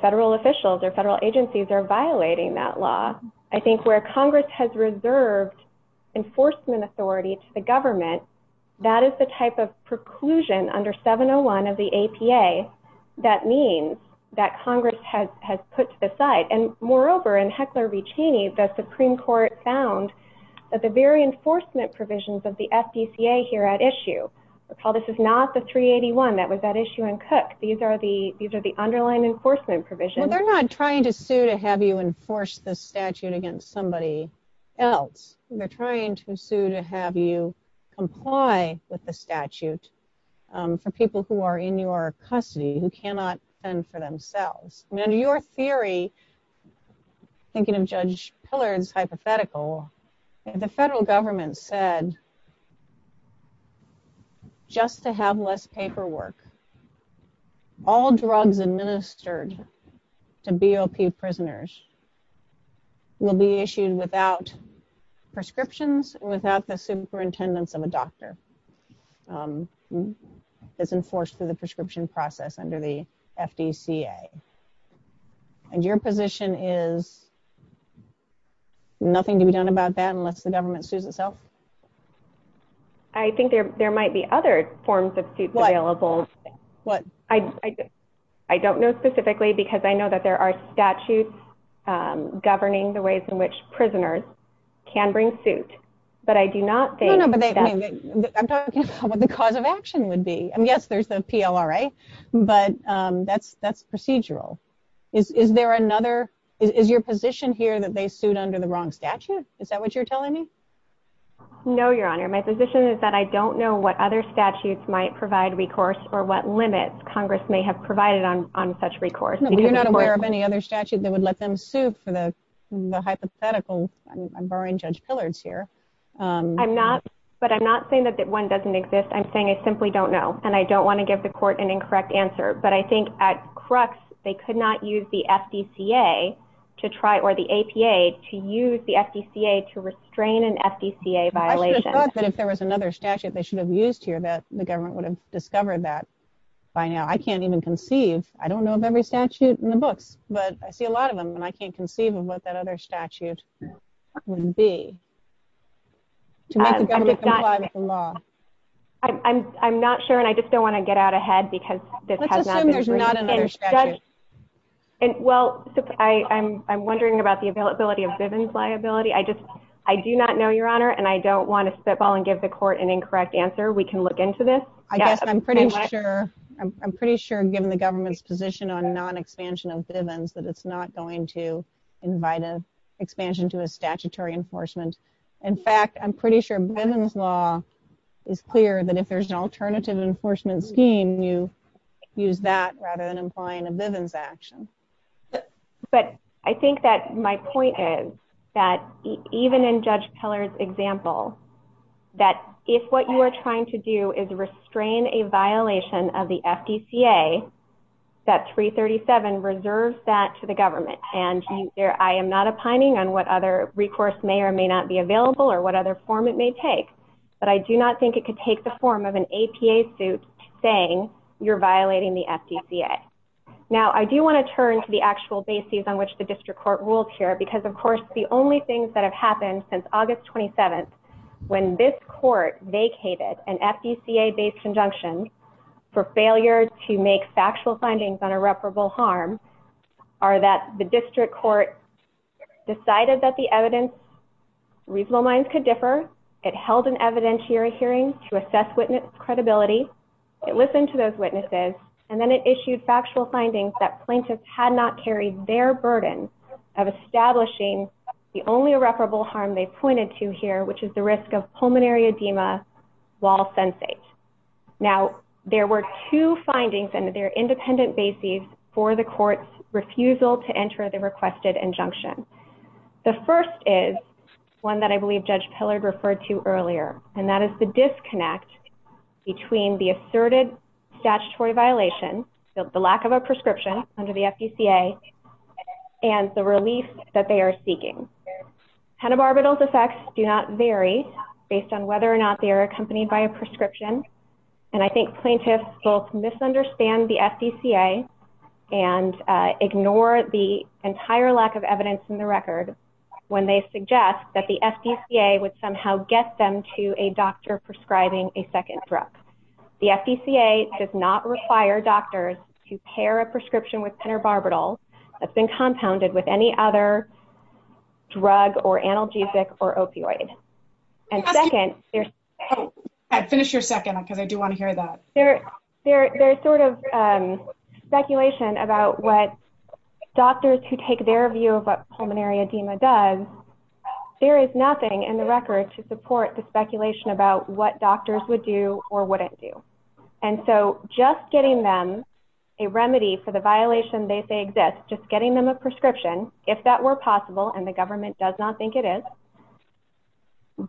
federal officials or federal agencies are violating that law. I think where Congress has reserved enforcement authority to the government, that is the type of preclusion under 701 of the APA that means that Congress has put to the side. And moreover, in Heckler v. Cheney, the Supreme Court found that the very enforcement provisions of the FDCA here at issue, recall this is not the 381 that was at issue in Cook. These are the underlying enforcement provisions. Well, they're not trying to sue to have you enforce the statute against somebody else. They're trying to sue to have you comply with the statute for people who are in your custody, who cannot stand for themselves. Now, your theory, thinking of Judge Pillard's hypothetical, the federal government said just to have less paperwork, all drugs administered to BOP prisoners will be issued without prescriptions, without the superintendence of a doctor that's enforced through the prescription process under the FDCA. And your position is nothing to be done about that unless the government sues itself? I think there might be other forms of suits available. What? I don't know specifically because I know that there are statutes governing the ways in which prisoners can bring suits. But I do not think that... No, no, but I'm talking about what the cause of action would be. And, yes, there's a PLRA, but that's procedural. Is there another, is your position here that they sued under the wrong statute? Is that what you're telling me? No, Your Honor. My position is that I don't know what other statutes might provide recourse or what limits Congress may have provided on such recourse. You're not aware of any other statute that would let them sue for the hypothetical? I'm borrowing Judge Pillard's here. I'm not, but I'm not saying that one doesn't exist. I'm saying I simply don't know, and I don't want to give the court an incorrect answer. But I think at crux, they could not use the FDCA to try, or the APA, to use the FDCA to restrain an FDCA violation. I would have thought that if there was another statute they should have used here that the government would have discovered that by now. I can't even conceive. I don't know of every statute in the book, but I see a lot of them, and I can't conceive of what that other statute would be to make the government comply with the law. I'm not sure, and I just don't want to get out ahead because this has not been... Let's assume there's not another statute. Well, I'm wondering about the availability of Bivens liability. I do not know, Your Honor, and I don't want to spitball and give the court an incorrect answer. We can look into this. I guess I'm pretty sure, given the government's position on non-expansion of Bivens, that it's not going to invite an expansion to the statutory enforcement. In fact, I'm pretty sure Bivens law is clear that if there's an alternative enforcement scheme, you use that rather than implying a Bivens action. But I think that my point is that even in Judge Keller's example, that if what you are trying to do is restrain a violation of the FDCA, that 337 reserves that to the government. And I am not opining on what other recourse may or may not be available or what other form it may take, but I do not think it could take the form of an APA suit saying you're violating the FDCA. Now, I do want to turn to the actual basis on which the district court rules here because, of course, the only things that have happened since August 27th, when this court vacated an FDCA-based injunction for failure to make factual findings on irreparable harm, are that the district court decided that the evidence reasonable minds could differ. It held an evidentiary hearing to assess witness credibility. It listened to those witnesses, and then it issued factual findings that plaintiffs had not carried their burden of establishing the only irreparable harm they pointed to here, which is the risk of pulmonary edema while sensing. Now, there were two findings in their independent basis for the court's refusal to enter the requested injunction. The first is one that I believe Judge Pillard referred to earlier, and that is the disconnect between the asserted statutory violation, the lack of a prescription under the FDCA, and the relief that they are seeking. Pentabarbital's effects do not vary based on whether or not they are accompanied by a prescription, and I think plaintiffs will misunderstand the FDCA and ignore the entire lack of evidence in the record when they suggest that the FDCA would somehow get them to a doctor prescribing a second drug. The FDCA does not require doctors to pair a prescription with pentabarbital that's been compounded with any other drug or analgesic or opioid. There is sort of speculation about what doctors who take their view of what pulmonary edema does, there is nothing in the record to support the speculation about what doctors would do or wouldn't do, and so just getting them a remedy for the violation they say exists, just getting them a prescription, if that were possible, and the government does not think it is,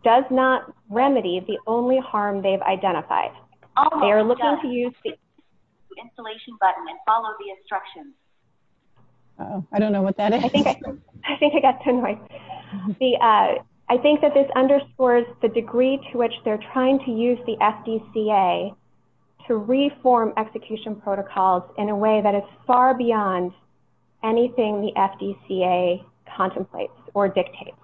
does not remedy the only harm they've identified. They are looking to use the installation button and follow the instructions. I don't know what that is. I think I got some noise. I think that this underscores the degree to which they're trying to use the FDCA to reform execution protocols in a way that is far beyond anything the FDCA contemplates or dictates.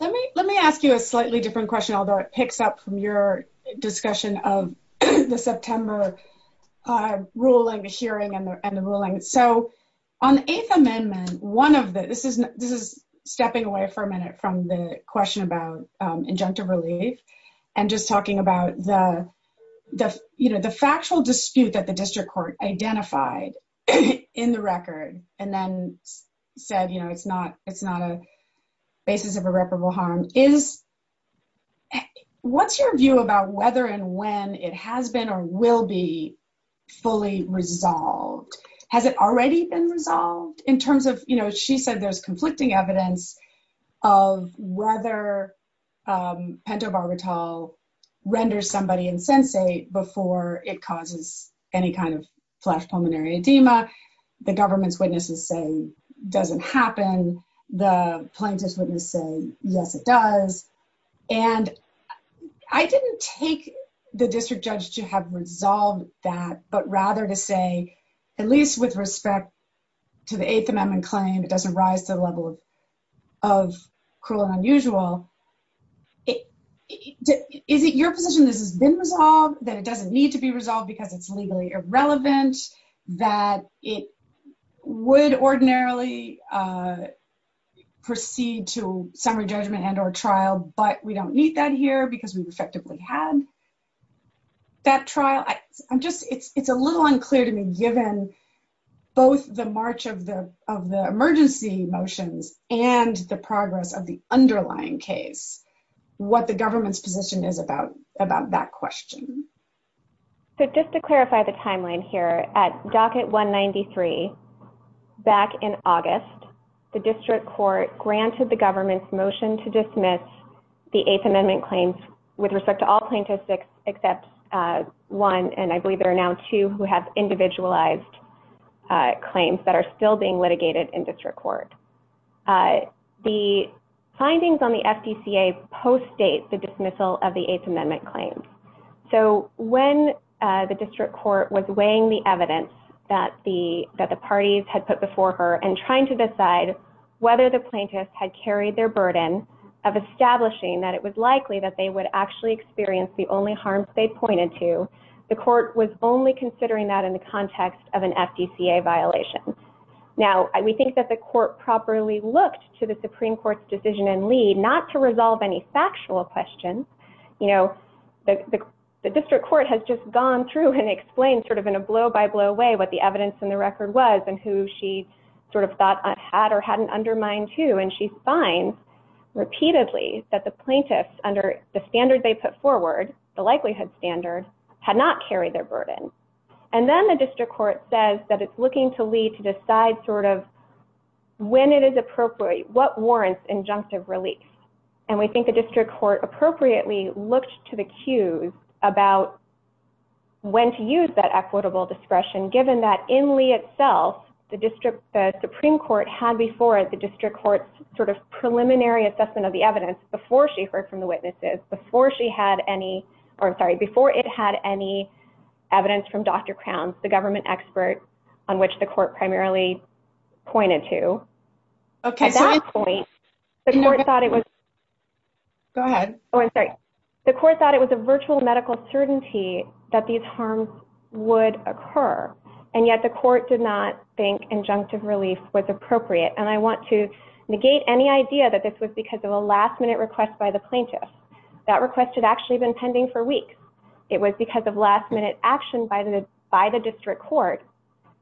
Let me ask you a slightly different question, although it picks up from your discussion of the September ruling, the hearing, and the ruling. On the Eighth Amendment, this is stepping away for a minute from the question about injunctive relief and just talking about the factual dispute that the district court identified in the record and then said it's not a basis of irreparable harm. What's your view about whether and when it has been or will be fully resolved? Has it already been resolved in terms of, you know, she said there's conflicting evidence of whether pentobarbital renders somebody insensate before it causes any kind of flash pulmonary edema. The government's witnesses say it doesn't happen. And the plaintiff's witness says, yes, it does. And I didn't take the district judge to have resolved that, but rather to say, at least with respect to the Eighth Amendment claim, it doesn't rise to the level of cruel and unusual. Is it your position that it has been resolved, that it doesn't need to be resolved because it's legally irrelevant, that it would ordinarily proceed to summary judgment and or trial, but we don't need that here because we've effectively had that trial? It's a little unclear to me, given both the march of the emergency motions and the progress of the underlying case, what the government's position is about that question. So just to clarify the timeline here, at Docket 193, back in August, the district court granted the government's motion to dismiss the Eighth Amendment claims with respect to all plaintiffs except one, and I believe there are now two, who have individualized claims that are still being litigated in district court. The findings on the FDCA post-date the dismissal of the Eighth Amendment claims. So when the district court was weighing the evidence that the parties had put before her and trying to decide whether the plaintiffs had carried their burden of establishing that it was likely that they would actually experience the only harms they pointed to, the court was only considering that in the context of an FDCA violation. Now, we think that the court properly looked to the Supreme Court's decision and lead not to resolve any factual questions. You know, the district court has just gone through and explained sort of in a blow-by-blow way what the evidence in the record was and who she sort of thought had or hadn't undermined who, and she finds repeatedly that the plaintiffs, under the standard they put forward, the likelihood standard, had not carried their burden. And then the district court says that it's looking to Lee to decide sort of when it is appropriate, what warrants injunctive release. And we think the district court appropriately looked to the cues about when to use that equitable discretion, given that in Lee itself, the Supreme Court had before it the district court's sort of preliminary assessment of the evidence before she heard from the witnesses, before she had any, or I'm sorry, before it had any evidence from Dr. Crowns, the government expert on which the court primarily pointed to. At that point, the court thought it was a virtual medical certainty that these harms would occur, and yet the court did not think injunctive release was appropriate. And I want to negate any idea that this was because of a last-minute request by the plaintiff. That request had actually been pending for weeks. It was because of last-minute action by the district court,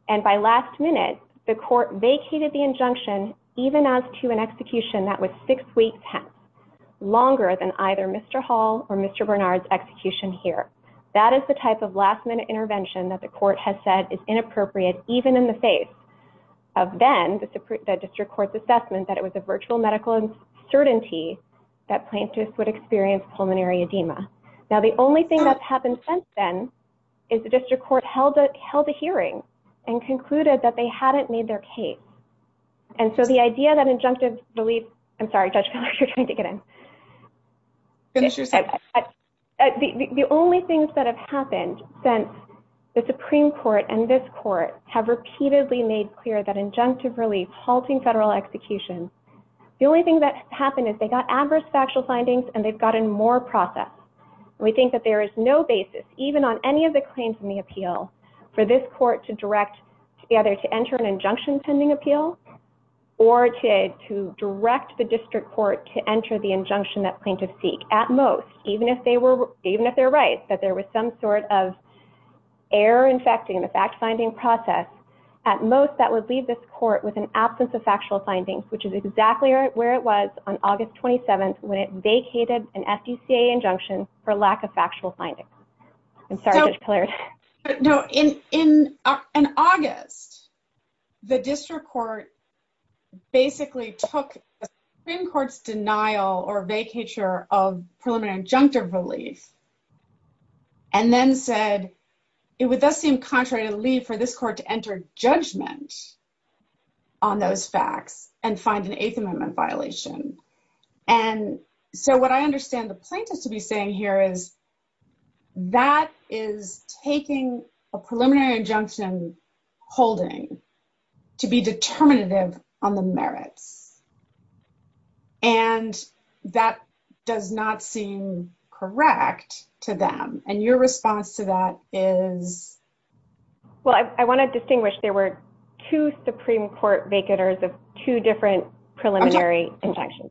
and by last minute, the court vacated the injunction, even as to an execution that was six weeks, longer than either Mr. Hall or Mr. Bernard's execution here. That is the type of last-minute intervention that the court has said is inappropriate, even in the face of then the district court's assessment that it was a virtual medical certainty that plaintiffs would experience pulmonary edema. Now, the only thing that's happened since then is the district court held a hearing and concluded that they hadn't made their case. And so the idea that injunctive release, I'm sorry, Judge Keller, you're trying to get in. Finish your text. The only things that have happened since the Supreme Court and this court have repeatedly made clear that injunctive release, halting federal execution, the only thing that's happened is they got adverse factual findings, and they've gotten more process. We think that there is no basis, even on any of the claims in the appeal, for this court to direct either to enter an injunction pending appeal, or to direct the district court to enter the injunction that plaintiffs seek. At most, even if they're right that there was some sort of error in fact in the fact-finding process, at most that would leave this court with an absence of factual findings, which is exactly where it was on August 27th when it vacated an FDCA injunction for lack of factual findings. I'm sorry, Judge Keller. In August, the district court basically took the Supreme Court's denial or vacature of preliminary injunctive release and then said it would thus seem contrary to leave for this court to enter judgment on those facts and find an Eighth Amendment violation. And so what I understand the plaintiff to be saying here is that is taking a preliminary injunction holding to be determinative on the merit. And that does not seem correct to them. And your response to that is? Well, I want to distinguish. There were two Supreme Court vacators of two different preliminary injunctions.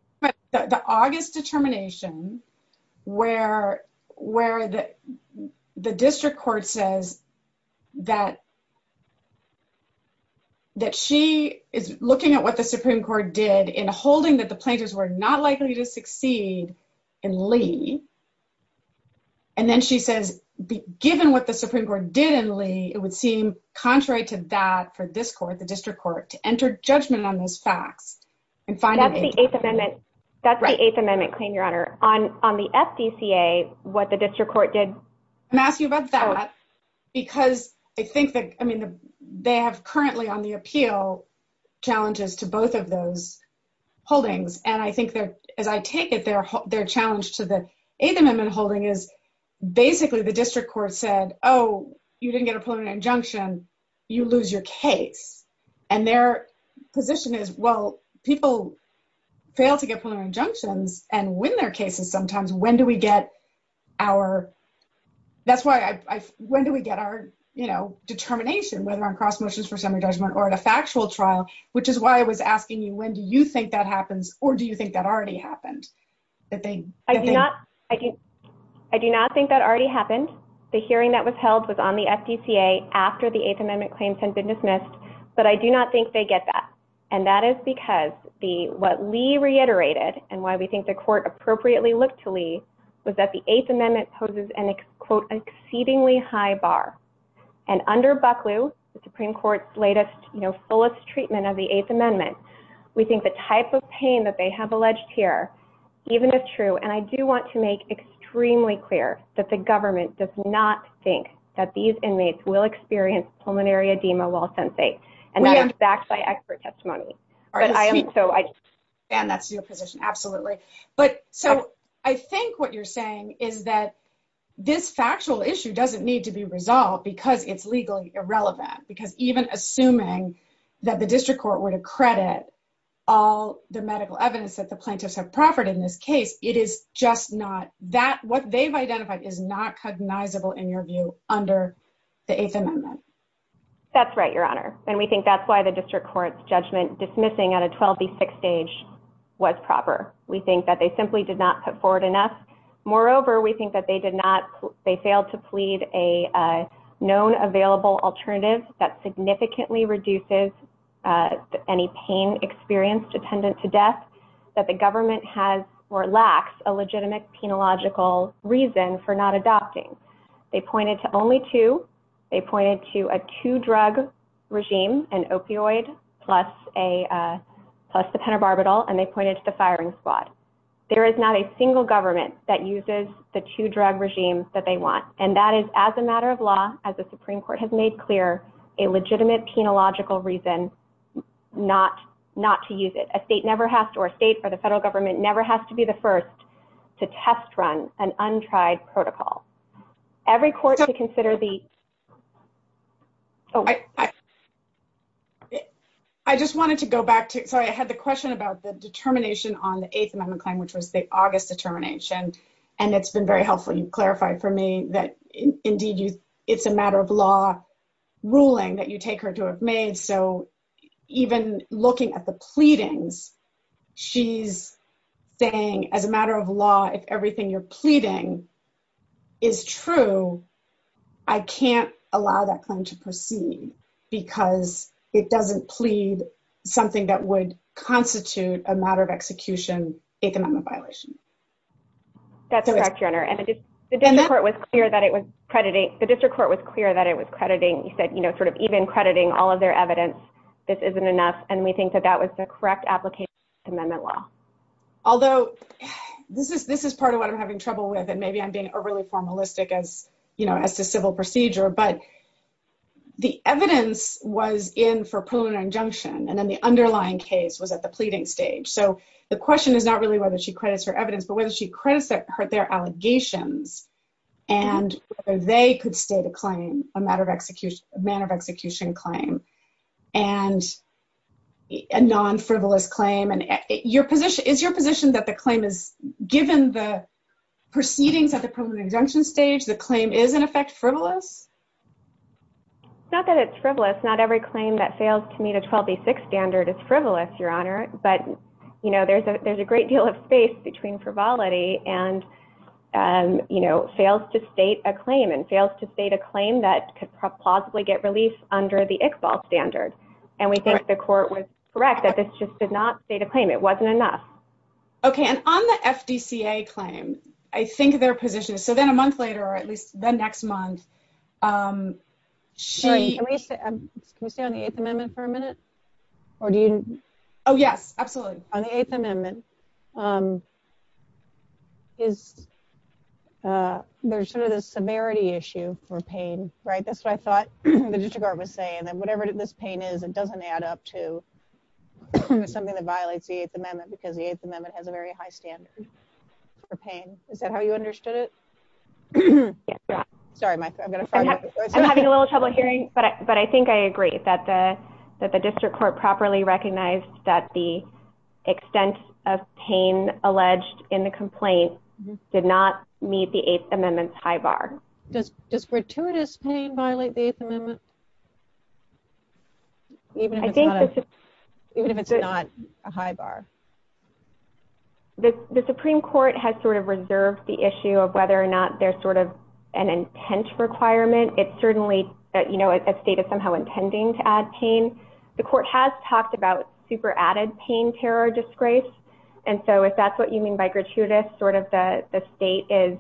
The August determination where the district court says that she is looking at what the Supreme Court did in holding that the plaintiffs were not likely to succeed in leave. And then she says, given what the Supreme Court did in leave, it would seem contrary to that for this court, the district court, to enter judgment on those facts. That's the Eighth Amendment claim, Your Honor. On the FDCA, what the district court did. Matthew, about that. Because I think that, I mean, they have currently on the appeal challenges to both of those holdings. And I think that as I take it, their challenge to the Eighth Amendment holding is basically the district court said, oh, you didn't get a preliminary injunction. You lose your case. And their position is, well, people fail to get preliminary injunctions and win their cases sometimes. When do we get our, that's why I, when do we get our, you know, determination whether on cross motions for semi-judgment or the factual trial? Which is why I was asking you, when do you think that happens? Or do you think that already happened? I do not think that already happened. The hearing that was held was on the FDCA after the Eighth Amendment claims had been dismissed. But I do not think they get that. And that is because what Lee reiterated and why we think the court appropriately looked to Lee was that the Eighth Amendment poses an exceedingly high bar. And under Bucklew, the Supreme Court's latest, you know, fullest treatment of the Eighth Amendment, we think the type of pain that they have alleged here, even if true. And I do want to make extremely clear that the government does not think that these inmates will experience pulmonary edema while sentencing. And that is backed by expert testimony. And that's your position, absolutely. But so I think what you're saying is that this factual issue doesn't need to be resolved because it's legally irrelevant. Because even assuming that the district court were to credit all the medical evidence that the plaintiffs have proffered in this case, it is just not that, what they've identified is not cognizable in your view under the Eighth Amendment. That's right, Your Honor. And we think that's why the district court's judgment dismissing at a 12B6 stage was proper. We think that they simply did not put forward enough. Moreover, we think that they did not, they failed to plead a known available alternative that significantly reduces any pain experienced attendant to death that the government has or lacks a legitimate penological reason for not adopting. They pointed to only two. They pointed to a two-drug regime, an opioid plus the pentobarbital. And they pointed to the firing squad. There is not a single government that uses the two-drug regime that they want. And that is, as a matter of law, as the Supreme Court has made clear, a legitimate penological reason not to use it. A state never has to, or a state or the federal government never has to be the first to test run an untried protocol. Every court to consider the... I just wanted to go back to, sorry, I had the question about the determination on the Eighth Amendment claim, which was the August determination. And it's been very helpful. You've clarified for me that, indeed, it's a matter of law ruling that you take her to have made. So even looking at the pleadings, she's saying, as a matter of law, if everything you're pleading is true, I can't allow that claim to proceed because it doesn't plead something that would constitute a matter of execution, Eighth Amendment violation. That's correct, Your Honor. And the district court was clear that it was crediting, you said, you know, sort of even crediting all of their evidence, this isn't enough. And we think that that was the correct application of Eighth Amendment law. Although, this is part of what I'm having trouble with, and maybe I'm being overly formalistic as, you know, as to civil procedure. But the evidence was in for a preliminary injunction, and then the underlying case was at the pleading stage. So the question is not really whether she credits her evidence, but whether she credits their allegations, and whether they could state a claim, a matter of execution claim, and a non-frivolous claim. And is your position that the claim is, given the proceedings at the preliminary injunction stage, the claim is, in effect, frivolous? Not that it's frivolous. Not every claim that fails to meet a 12B6 standard is frivolous, Your Honor. But, you know, there's a great deal of space between frivolity and, you know, fails to state a claim, and fails to state a claim that could possibly get relief under the Iqbal standard. And we think the court was correct that this just did not state a claim. It wasn't enough. Okay. And on the FDCA claim, I think their position is, so then a month later, or at least the next month, she… Can we stay on the Eighth Amendment for a minute? Oh, yes, absolutely. On the Eighth Amendment, there's sort of a severity issue for pain, right? That's what I thought the district court was saying. And whatever this pain is, it doesn't add up to something that violates the Eighth Amendment because the Eighth Amendment has a very high standard for pain. Is that how you understood it? Yeah. Sorry, I'm going to… I'm having a little trouble hearing, but I think I agree that the district court properly recognized that the extent of pain alleged in the complaint did not meet the Eighth Amendment's high bar. Does gratuitous pain violate the Eighth Amendment, even if it's not a high bar? The Supreme Court has sort of reserved the issue of whether or not there's sort of an intent requirement. It's certainly that, you know, a state is somehow intending to add pain. The court has talked about super added pain terror disgrace. And so if that's what you mean by gratuitous, sort of the state is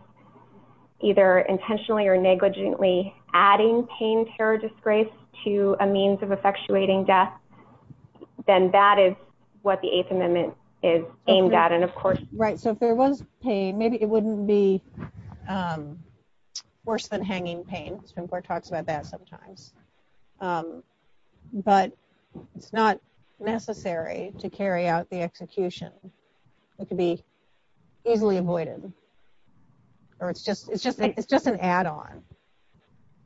either intentionally or negligently adding pain terror disgrace to a means of effectuating death, then that is what the Eighth Amendment is aimed at. And of course… Right. So if there was pain, maybe it wouldn't be worse than hanging pain. The Supreme Court talks about that sometimes. But it's not necessary to carry out the execution. It could be easily avoided. Or it's just an add-on.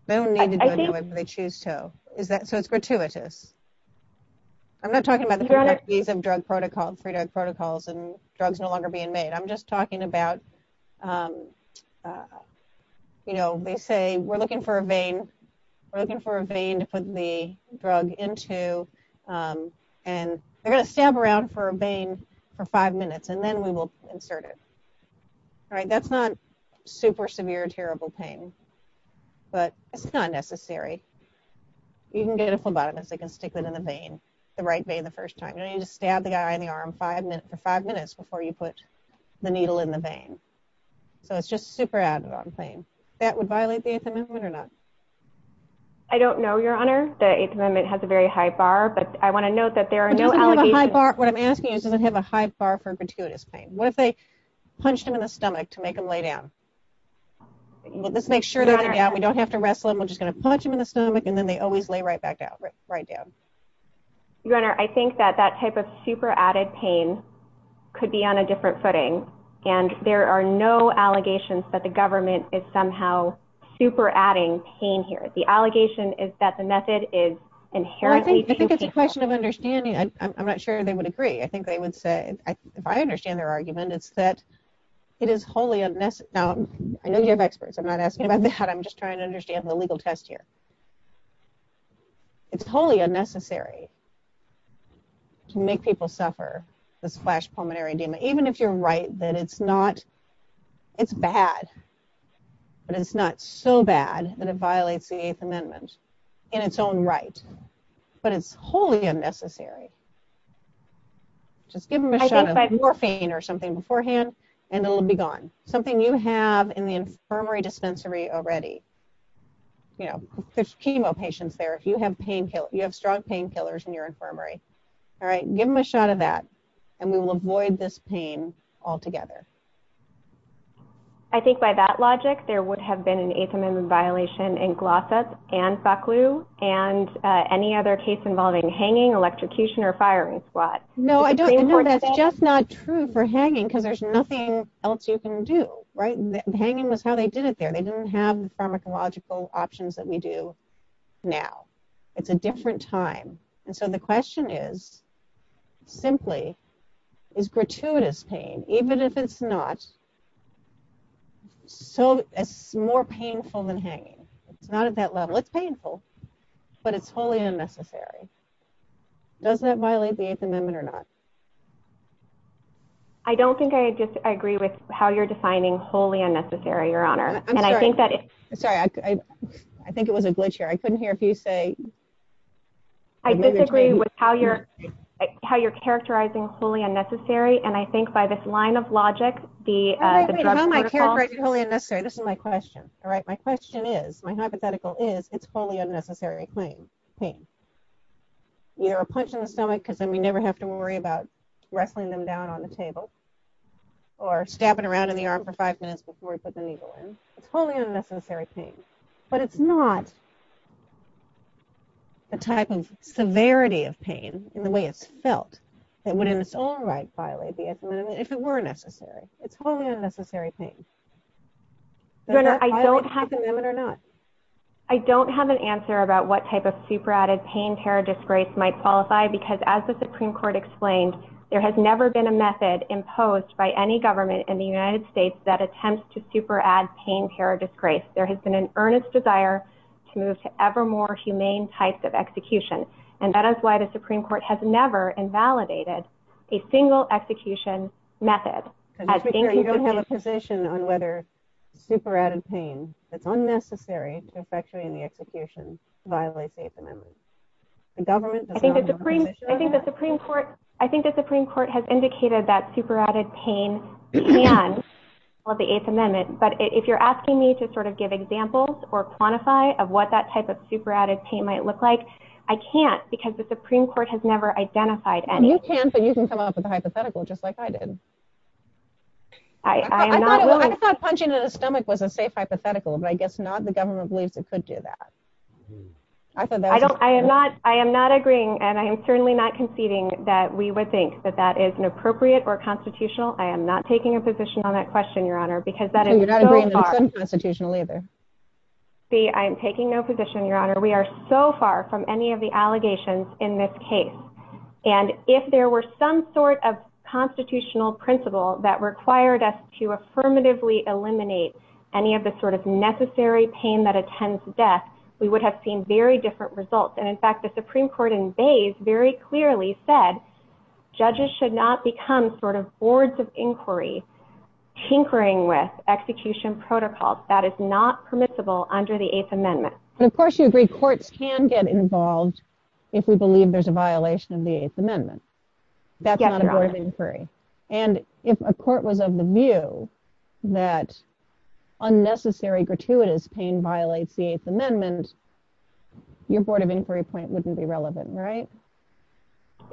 They don't need to do it anyway, but they choose to. So it's gratuitous. I'm not talking about the drug protocols and drugs no longer being made. I'm just talking about, you know, they say we're looking for a vein. We're looking for a vein to put the drug into. And they're going to stab around for a vein for five minutes, and then we will insert it. All right. That's not super severe, terrible pain. But it's not necessary. You can get a phlebotomist that can stick it in a vein, the right vein the first time. You don't need to stab the guy in the arm for five minutes before you put the needle in the vein. So it's just super add-on pain. That would violate the Eighth Amendment or not? I don't know, Your Honor. The Eighth Amendment has a very high bar. But I want to note that there are no allegations… What I'm asking is, does it have a high bar for gratuitous pain? What if they punched him in the stomach to make him lay down? Let's make sure, Your Honor… We don't have to wrestle him. We're just going to punch him in the stomach, and then they always lay right back down. Your Honor, I think that that type of super added pain could be on a different footing. And there are no allegations that the government is somehow super adding pain here. The allegation is that the method is inherently… I think it's a question of understanding. I'm not sure they would agree. I think they would say… If I understand their argument, it's that it is wholly unnecessary. Now, I know you have experts. I'm not asking about that. I'm just trying to understand the legal test here. It's wholly unnecessary to make people suffer with flash pulmonary edema, even if you're right that it's not… It's bad, but it's not so bad that it violates the Eighth Amendment in its own right. But it's wholly unnecessary. Just give them a shot of morphine or something beforehand, and it'll be gone. Something you have in the infirmary dispensary already. You know, there's chemo patients there. You have strong painkillers in your infirmary. All right, give them a shot of that, and we will avoid this pain altogether. I think by that logic, there would have been an Eighth Amendment violation in Glossop and Bucklew and any other case involving hanging, electrocution, or firing squad. No, I don't think that's just not true for hanging because there's nothing else you can do. Right? Hanging was how they did it there. They didn't have the pharmacological options that we do now. It's a different time. And so the question is, simply, is gratuitous pain, even if it's not, more painful than hanging? It's not at that level. It's painful, but it's wholly unnecessary. Does that violate the Eighth Amendment or not? I don't think I disagree with how you're defining wholly unnecessary, Your Honor. I'm sorry. I think it was a glitch here. I couldn't hear a few say… I disagree with how you're characterizing wholly unnecessary, and I think by this line of logic, the… I'm not saying it's wholly unnecessary. This is my question. All right? My question is, my hypothetical is, it's a wholly unnecessary pain. You know, a punch in the stomach because then you never have to worry about wrestling them down on the table or stabbing around in the arm for five minutes before you put the needle in. It's wholly unnecessary pain. But it's not a type of severity of pain in the way it's felt. It wouldn't in its own right violate the Eighth Amendment if it were necessary. It's wholly unnecessary pain. Your Honor, I don't have… Does that violate the Eighth Amendment or not? I don't have an answer about what type of superadded pain-pair disgrace might qualify because, as the Supreme Court explained, there has never been a method imposed by any government in the United States that attempts to superadd pain-pair disgrace. There has been an earnest desire to move to ever more humane types of execution, and that is why the Supreme Court has never invalidated a single execution method. You don't have a position on whether superadded pain that's unnecessary to effectuate in the execution violates the Eighth Amendment. I think the Supreme Court has indicated that superadded pain can violate the Eighth Amendment. But if you're asking me to sort of give examples or quantify of what that type of superadded pain might look like, I can't because the Supreme Court has never identified any. You can for using someone else's hypothetical just like I did. I thought punching in the stomach was a safe hypothetical, but I guess not the government believes it could do that. I am not agreeing, and I am certainly not conceding that we would think that that is inappropriate or constitutional. I am not taking a position on that question, Your Honor, because that is so far… You're not agreeing that it's unconstitutional either. See, I'm taking no position, Your Honor. We are so far from any of the allegations in this case, and if there were some sort of constitutional principle that required us to affirmatively eliminate any of the sort of necessary pain that attends death, we would have seen very different results. And, in fact, the Supreme Court in Bays very clearly said judges should not become sort of boards of inquiry tinkering with execution protocols. That is not permissible under the Eighth Amendment. And, of course, you agree courts can get involved if we believe there's a violation of the Eighth Amendment. That's not a board of inquiry. And if a court was of the view that unnecessary, gratuitous pain violates the Eighth Amendment, your board of inquiry point wouldn't be relevant, right?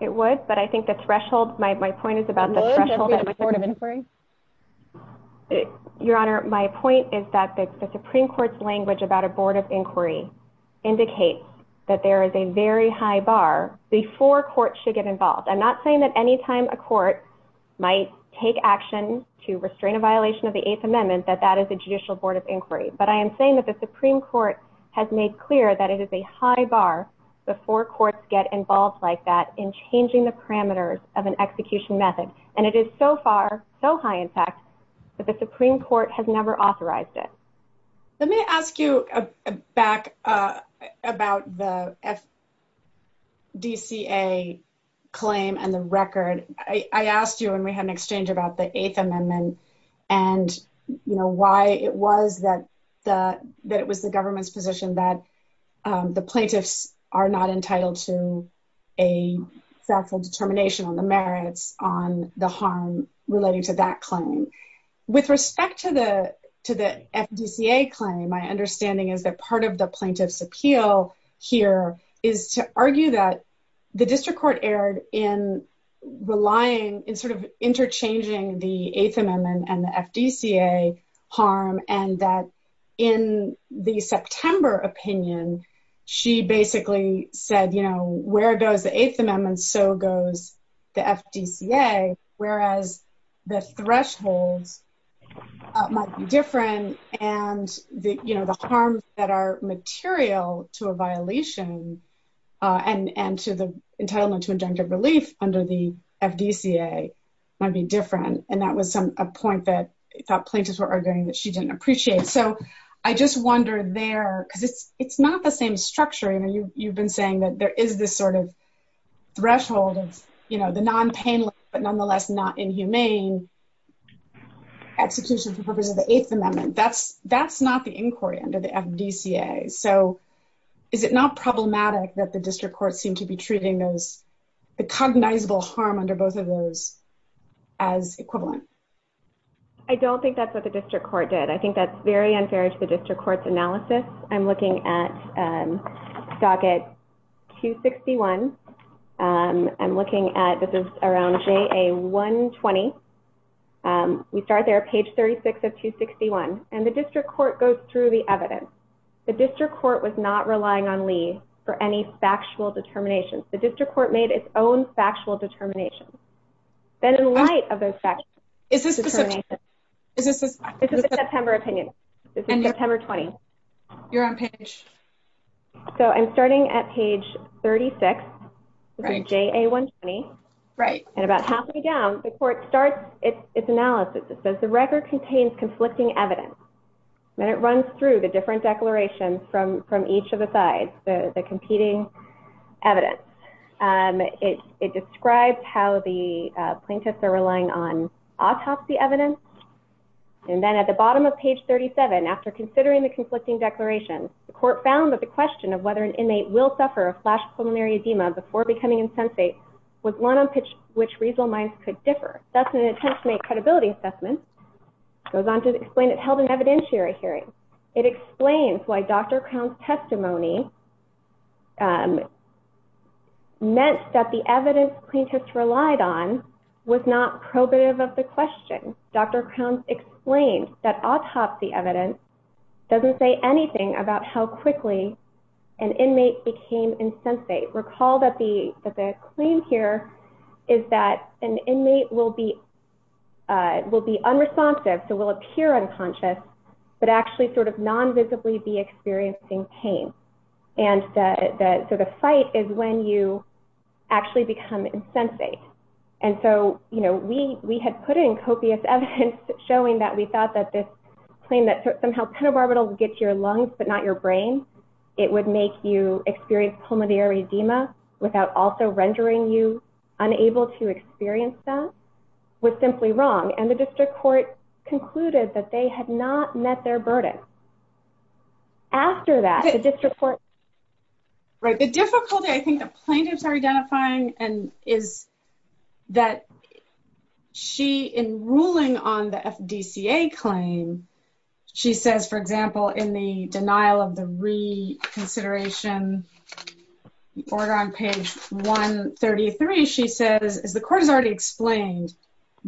It would, but I think the threshold… My point is about the threshold… Your Honor, my point is that the Supreme Court's language about a board of inquiry… Indicates that there is a very high bar before courts should get involved. I'm not saying that any time a court might take action to restrain a violation of the Eighth Amendment that that is a judicial board of inquiry. But I am saying that the Supreme Court has made clear that it is a high bar before courts get involved like that in changing the parameters of an execution method. And it is so far, so high, in fact, that the Supreme Court has never authorized it. Let me ask you back about the FDCA claim and the record. I asked you when we had an exchange about the Eighth Amendment and, you know, why it was that it was the government's position that the plaintiffs are not entitled to a factual determination on the merits on the harm relating to that claim. With respect to the FDCA claim, my understanding is that part of the plaintiff's appeal here is to argue that the district court erred in relying, in sort of interchanging the Eighth Amendment and the FDCA harm and that in the September opinion, she basically said, you know, where goes the Eighth Amendment, so goes the FDCA, whereas the threshold might be different and, you know, the harms that are material to a violation and to the entitlement to injunctive relief under the FDCA might be different. And that was a point that plaintiffs were arguing that she didn't appreciate. So I just wonder there, because it's not the same structure, you know, you've been saying that there is this sort of threshold of, you know, the non-painless but nonetheless not inhumane execution of the Eighth Amendment. That's not the inquiry under the FDCA. So is it not problematic that the district courts seem to be treating those, the cognizable harm under both of those as equivalent? I don't think that's what the district court did. I think that's very unfair to the district court's analysis. I'm looking at Socket 261. I'm looking at, this is around JA 120. We start there, page 36 of 261, and the district court goes through the evidence. The district court was not relying on Lee for any factual determination. The district court made its own factual determination. And in light of those factual determinations, this is a September opinion. This is September 20. You're on page. So I'm starting at page 36, JA 120. Right. And about halfway down, the court starts its analysis. It says the record contains conflicting evidence. And it runs through the different declarations from each of the sides, the competing evidence. It describes how the plaintiffs are relying on autopsy evidence. And then at the bottom of page 37, after considering the conflicting declarations, the court found that the question of whether an inmate will suffer a flash pulmonary edema before becoming insensate was one on which reasonable minds could differ. That's an intentional credibility assessment. It goes on to explain it held an evidentiary hearing. It explains why Dr. Cohn's testimony meant that the evidence plaintiffs relied on was not probative of the question. Dr. Cohn explained that autopsy evidence doesn't say anything about how quickly an inmate became insensate. And then at the bottom of page 38, recall that the claim here is that an inmate will be unresponsive, so will appear unconscious, but actually sort of nonvisibly be experiencing pain. And so the fight is when you actually become insensate. And so, you know, we had put in copious evidence showing that we thought that this claim, that somehow peripherals get to your lungs but not your brain, it would make you experience pulmonary edema without also rendering you unable to experience that, was simply wrong. And the district court concluded that they had not met their verdict. After that, the district court... Right. The difficulty I think the plaintiffs are identifying is that she, in ruling on the FDCA claim, she says, for example, in the denial of the reconsideration order on page 133, she says, as the court has already explained,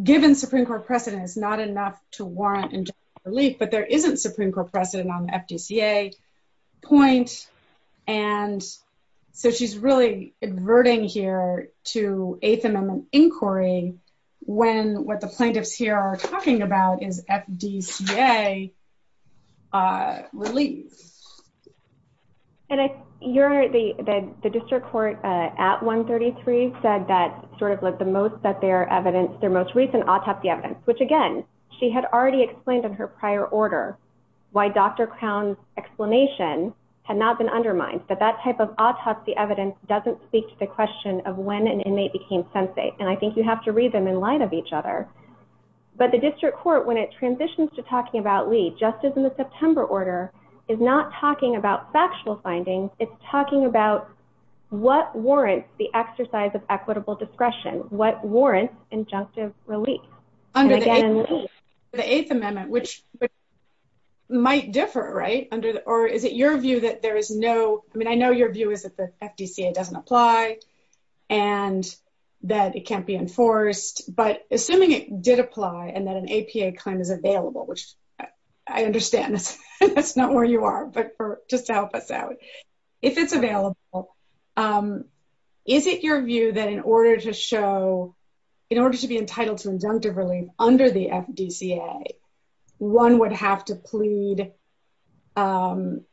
given Supreme Court precedent, it's not enough to warrant injunctive relief, but there isn't Supreme Court precedent on the FDCA point. And so she's really averting here to 8th Amendment inquiry when what the plaintiffs here are talking about is FDCA relief. And the district court at 133 said that sort of the most recent autopsy evidence, which again, she had already explained in her prior order why Dr. Crown's explanation had not been undermined. But that type of autopsy evidence doesn't speak to the question of when an inmate became sensate. And I think you have to read them in light of each other. But the district court, when it transitions to talking about Lee, just as in the September order, is not talking about factual findings. It's talking about what warrants the exercise of equitable discretion, what warrants injunctive relief. The 8th Amendment, which might differ, right? Or is it your view that there is no... I mean, I know your view is that the FDCA doesn't apply and that it can't be enforced. But assuming it did apply and that an APA claim is available, which I understand that's not where you are, but just to help us out. If it's available, is it your view that in order to show, in order to be entitled to injunctive relief under the FDCA, one would have to plead and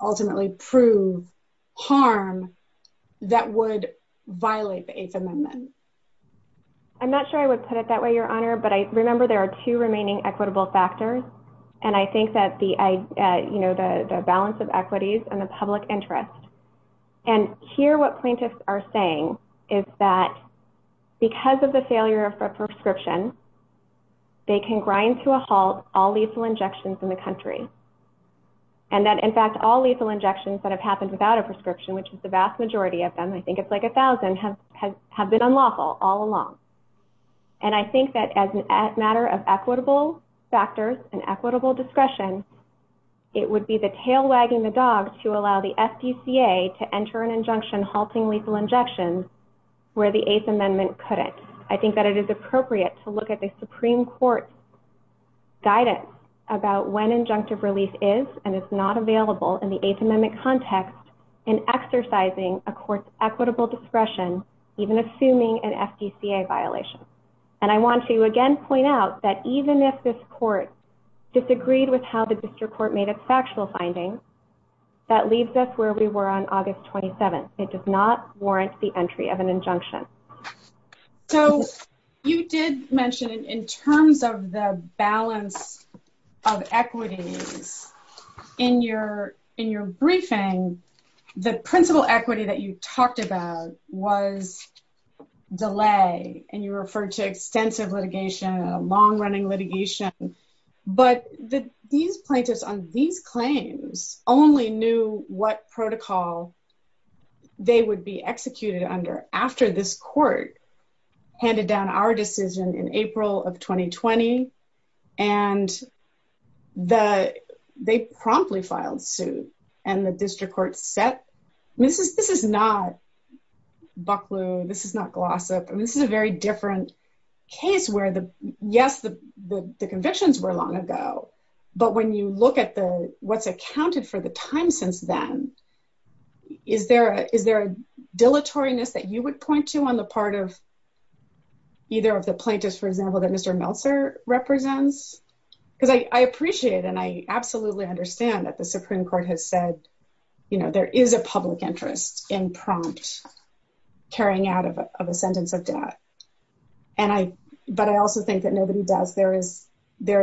ultimately prove harm that would violate the 8th Amendment? I'm not sure I would put it that way, Your Honor. But I remember there are two remaining equitable factors. And I think that the balance of equities and the public interest. And here what plaintiffs are saying is that because of the failure of a prescription, they can grind to a halt all lethal injections in the country. And that, in fact, all lethal injections that have happened without a prescription, which is the vast majority of them, I think it's like a thousand, have been unlawful all along. And I think that as a matter of equitable factors and equitable discretion, it would be the tail wagging the dog to allow the FDCA to enter an injunction halting lethal injections where the 8th Amendment couldn't. I think that it is appropriate to look at the Supreme Court guidance about when injunctive relief is and is not available in the 8th Amendment context in exercising a court's equitable discretion, even assuming an FDCA violation. And I want to again point out that even if this court disagreed with how the district court made its factual findings, that leaves us where we were on August 27th. It does not warrant the entry of an injunction. So you did mention in terms of the balance of equity in your briefing, the principal equity that you talked about was delay and you referred to extensive litigation, long running litigation. But these plaintiffs on these claims only knew what protocol they would be executed under after this court handed down our decision in April of 2020 and they promptly filed suit. And the district court said, this is not Bucklew, this is not Glossop, this is a very different case where, yes, the convictions were long ago. But when you look at what's accounted for the time since then, is there a dilatoriness that you would point to on the part of either of the plaintiffs, for example, that Mr. Meltzer represents? Because I appreciate and I absolutely understand that the Supreme Court has said, you know, there is a public interest in prompt carrying out of a sentence of death. But I also think that nobody doubts there is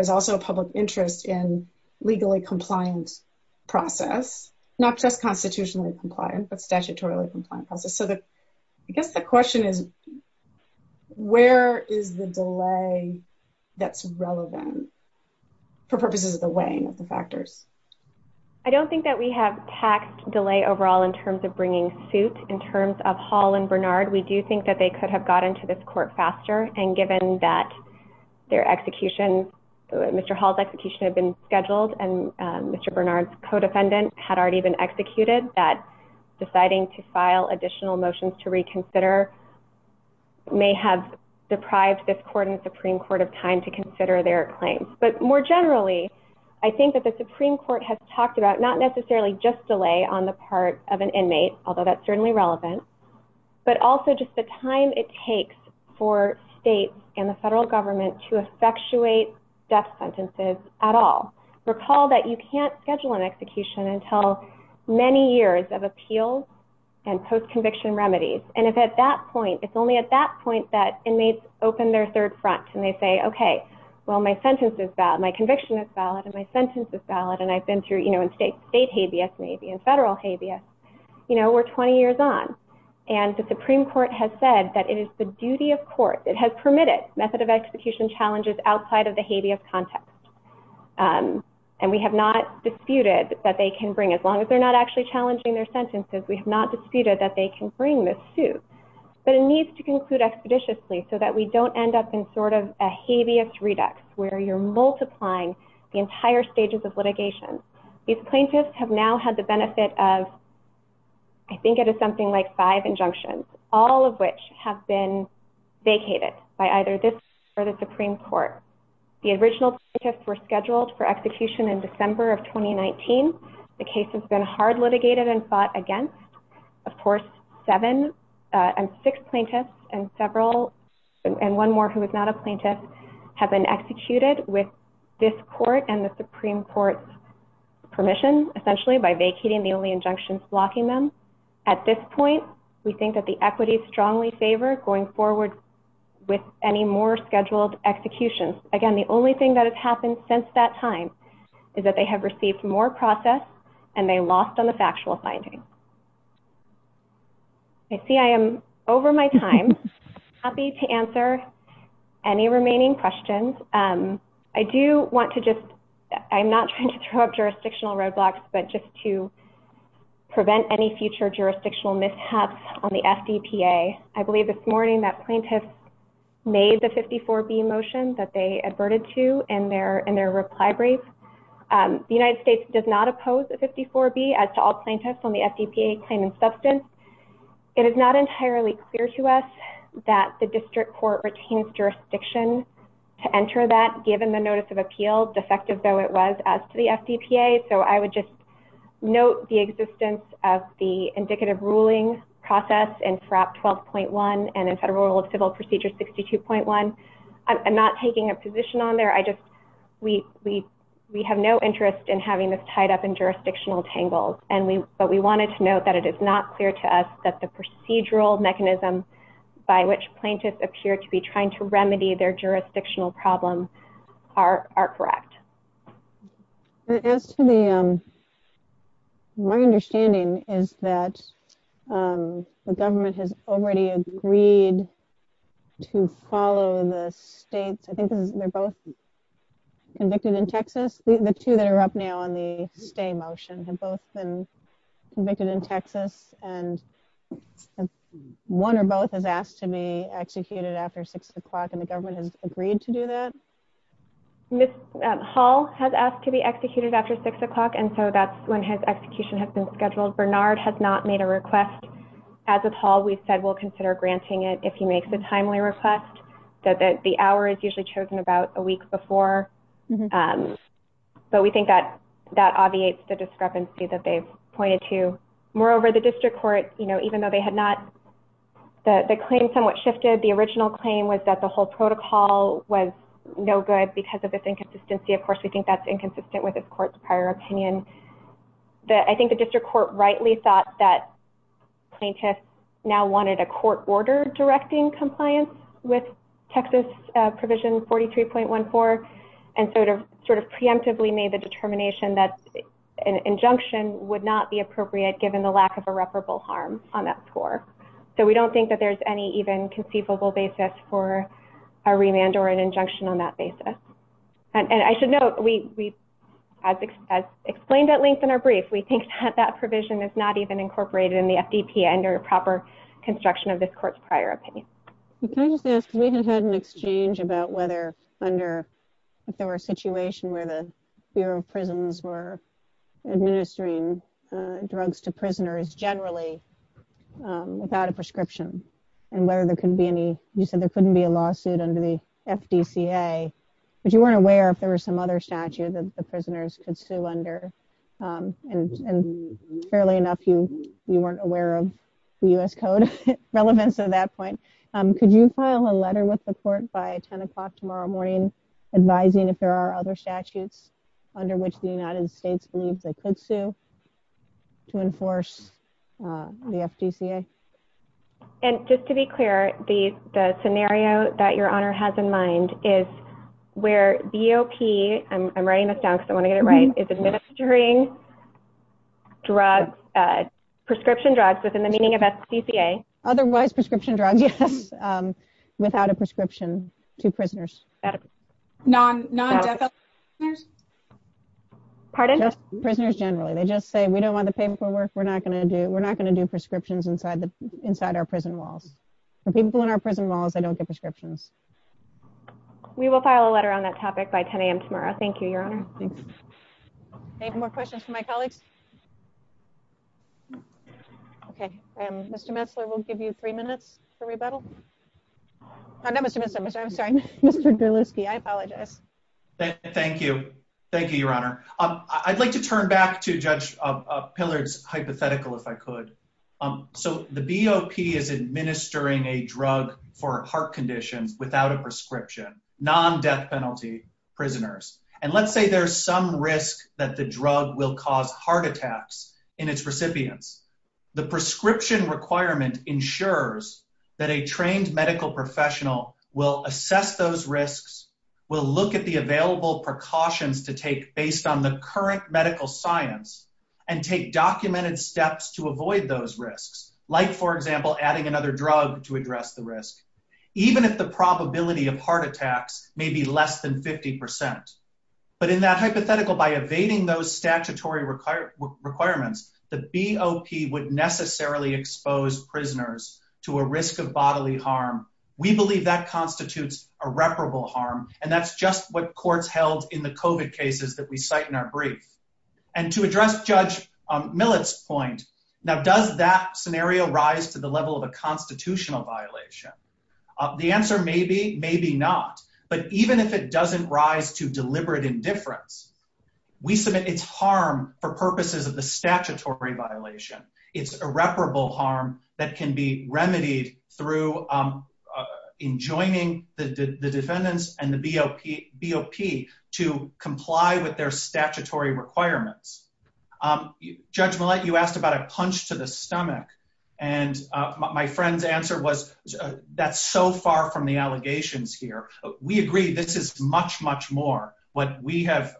also a public interest in legally compliant process, not just constitutionally compliant, but statutorily compliant process. So I guess the question is, where is the delay that's relevant for purposes of the weighing of the factors? I don't think that we have taxed delay overall in terms of bringing suit. In terms of Hall and Bernard, we do think that they could have gotten to this court faster. And given that their execution, Mr. Hall's execution had been scheduled and Mr. Bernard's co-defendant had already been executed, that deciding to file additional motions to reconsider may have deprived this court and Supreme Court of time to consider their claims. But more generally, I think that the Supreme Court has talked about not necessarily just delay on the part of an inmate, although that's certainly relevant, but also just the time it takes for states and the federal government to effectuate death sentences at all. I think that the Supreme Court has said that it is the duty of court, it has permitted method of execution challenges outside of the habeas context. And we have not disputed that they can bring, as long as they're not actually challenging their sentences, we have not disputed that they can bring the suit. But it needs to conclude expeditiously so that we don't end up in sort of a habeas redux where you're multiplying the entire stages of litigation. These plaintiffs have now had the benefit of, I think it is something like five injunctions, all of which have been vacated by either this or the Supreme Court. The original plaintiffs were scheduled for execution in December of 2019. The case has been hard litigated and fought against. Of course, seven and six plaintiffs and several, and one more who is not a plaintiff, have been executed with this court and the Supreme Court's permission, essentially by vacating the only injunctions blocking them. At this point, we think that the equities strongly favor going forward with any more scheduled executions. Again, the only thing that has happened since that time is that they have received more process and they lost on the factual findings. I see I am over my time. Happy to answer any remaining questions. I do want to just, I'm not trying to throw up jurisdictional roadblocks, but just to prevent any future jurisdictional mishaps on the FDPA. I believe this morning that plaintiffs made the 54B motion that they adverted to in their reply brief. The United States does not oppose the 54B as to all plaintiffs on the FDPA claiming substance. It is not entirely clear to us that the district court retains jurisdiction to enter that, given the notice of appeal, defective though it was as to the FDPA. So I would just note the existence of the indicative ruling process in Prop 12.1 and in Federal Rule of Civil Procedure 62.1. I'm not taking a position on there. We have no interest in having this tied up in jurisdictional tangles, but we wanted to note that it is not clear to us that the procedural mechanism by which plaintiffs appear to be trying to remedy their jurisdictional problems are correct. My understanding is that the government has already agreed to follow the state, I think they're both convicted in Texas. The two that are up now on the stay motion have both been convicted in Texas and one or both have asked to be executed after six o'clock and the government has agreed to do that. Ms. Hall has asked to be executed after six o'clock and so that's when his execution has been scheduled. Bernard has not made a request. As with Hall, we said we'll consider granting it if he makes a timely request. The hour is usually chosen about a week before. But we think that that obviates the discrepancy that they've pointed to. Moreover, the district court, you know, even though they had not, the claim somewhat shifted. The original claim was that the whole protocol was no good because of this inconsistency. Of course, we think that's inconsistent with this court's prior opinion. I think the district court rightly thought that plaintiffs now wanted a court order directing compliance with Texas Provision 43.14 and sort of preemptively made the determination that an injunction would not be appropriate, given the lack of irreparable harm on that floor. So we don't think that there's any even conceivable basis for a remand or an injunction on that basis. And I should note, as explained at length in our brief, we think that that provision is not even incorporated in the FDP under proper construction of this court's prior opinion. We have had an exchange about whether under, if there were a situation where the Bureau of Prisons were administering drugs to prisoners generally without a prescription. And whether there could be any, you said there couldn't be a lawsuit under the FDCA, but you weren't aware if there was some other statute that the prisoners could sue under. Fairly enough, you weren't aware of the U.S. Code relevance of that point. Could you file a letter with the court by 10 o'clock tomorrow morning, advising if there are other statutes under which the United States believes they could sue to enforce the FDCA? And just to be clear, the scenario that Your Honor has in mind is where BOP, I'm writing this down because I want to get it right, is administering prescription drugs within the meaning of FDCA. Otherwise prescription drugs, yes, without a prescription to prisoners. Pardon? Prisoners generally. They just say, we don't want to pay for work, we're not going to do prescriptions inside our prison walls. The people in our prison walls, they don't get prescriptions. We will file a letter on that topic by 10 a.m. tomorrow. Thank you, Your Honor. Any more questions from my colleagues? Okay, Mr. Metzler, we'll give you three minutes to rebuttal. Mr. Berlusi, I apologize. Thank you. Thank you, Your Honor. I'd like to turn back to Judge Pillard's hypothetical, if I could. So the BOP is administering a drug for a heart condition without a prescription, non-death penalty prisoners. And let's say there's some risk that the drug will cause heart attacks in its recipients. The prescription requirement ensures that a trained medical professional will assess those risks, will look at the available precautions to take based on the current medical science, and take documented steps to avoid those risks. Like, for example, adding another drug to address the risk. Even if the probability of heart attacks may be less than 50%. But in that hypothetical, by evading those statutory requirements, the BOP would necessarily expose prisoners to a risk of bodily harm. We believe that constitutes irreparable harm, and that's just what courts held in the COVID cases that we cite in our brief. And to address Judge Millett's point, now, does that scenario rise to the level of a constitutional violation? The answer may be, maybe not. But even if it doesn't rise to deliberate indifference, we submit it's harm for purposes of the statutory violation. It's irreparable harm that can be remedied through enjoining the defendants and the BOP to comply with their statutory requirements. Judge Millett, you asked about a punch to the stomach. And my friend's answer was, that's so far from the allegations here. We agree this is much, much more what we have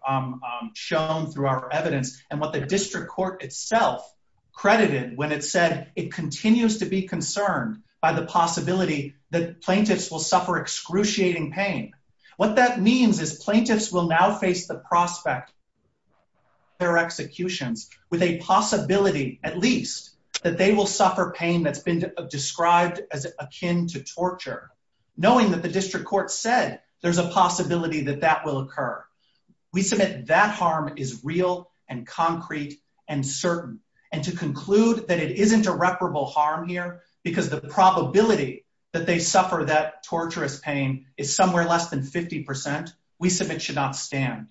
shown through our evidence, and what the district court itself credited when it said it continues to be concerned by the possibility that plaintiffs will suffer excruciating pain. What that means is plaintiffs will now face the prospect of their execution with a possibility, at least, that they will suffer pain that's been described as akin to torture, knowing that the district court said there's a possibility that that will occur. We submit that harm is real and concrete and certain. And to conclude that it isn't irreparable harm here because the probability that they suffer that torturous pain is somewhere less than 50%, we submit should not stand.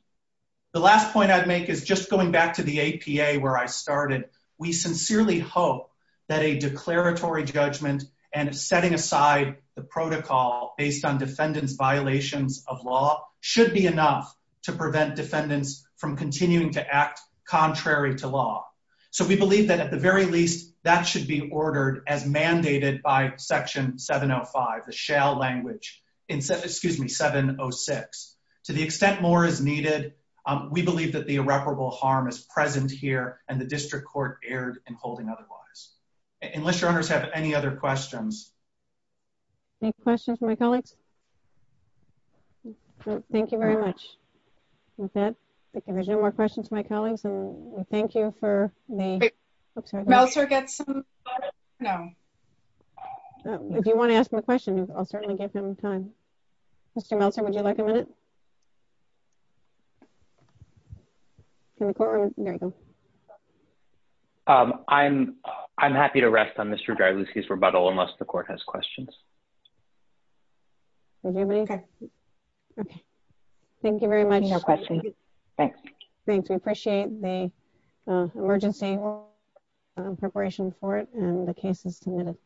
The last point I'd make is just going back to the APA where I started. We sincerely hope that a declaratory judgment and setting aside the protocol based on defendant's violations of law should be enough to prevent defendants from continuing to act contrary to law. So we believe that, at the very least, that should be ordered as mandated by Section 705, the shale language, excuse me, 706. To the extent more is needed, we believe that the irreparable harm is present here and the district court erred in holding otherwise. Unless your owners have any other questions. Any questions from my colleagues? Thank you very much. Okay. Any more questions from my colleagues? Thank you for... Meltzer gets some... No. If you want to ask him a question, I'll certainly give him time. Mr. Meltzer, would you like a minute? There you go. I'm happy to rest on Mr. Garbuski's rebuttal unless the court has questions. Okay. Thank you very much. No questions. Thanks. Thanks. We appreciate the emergency preparation for it and the cases committed.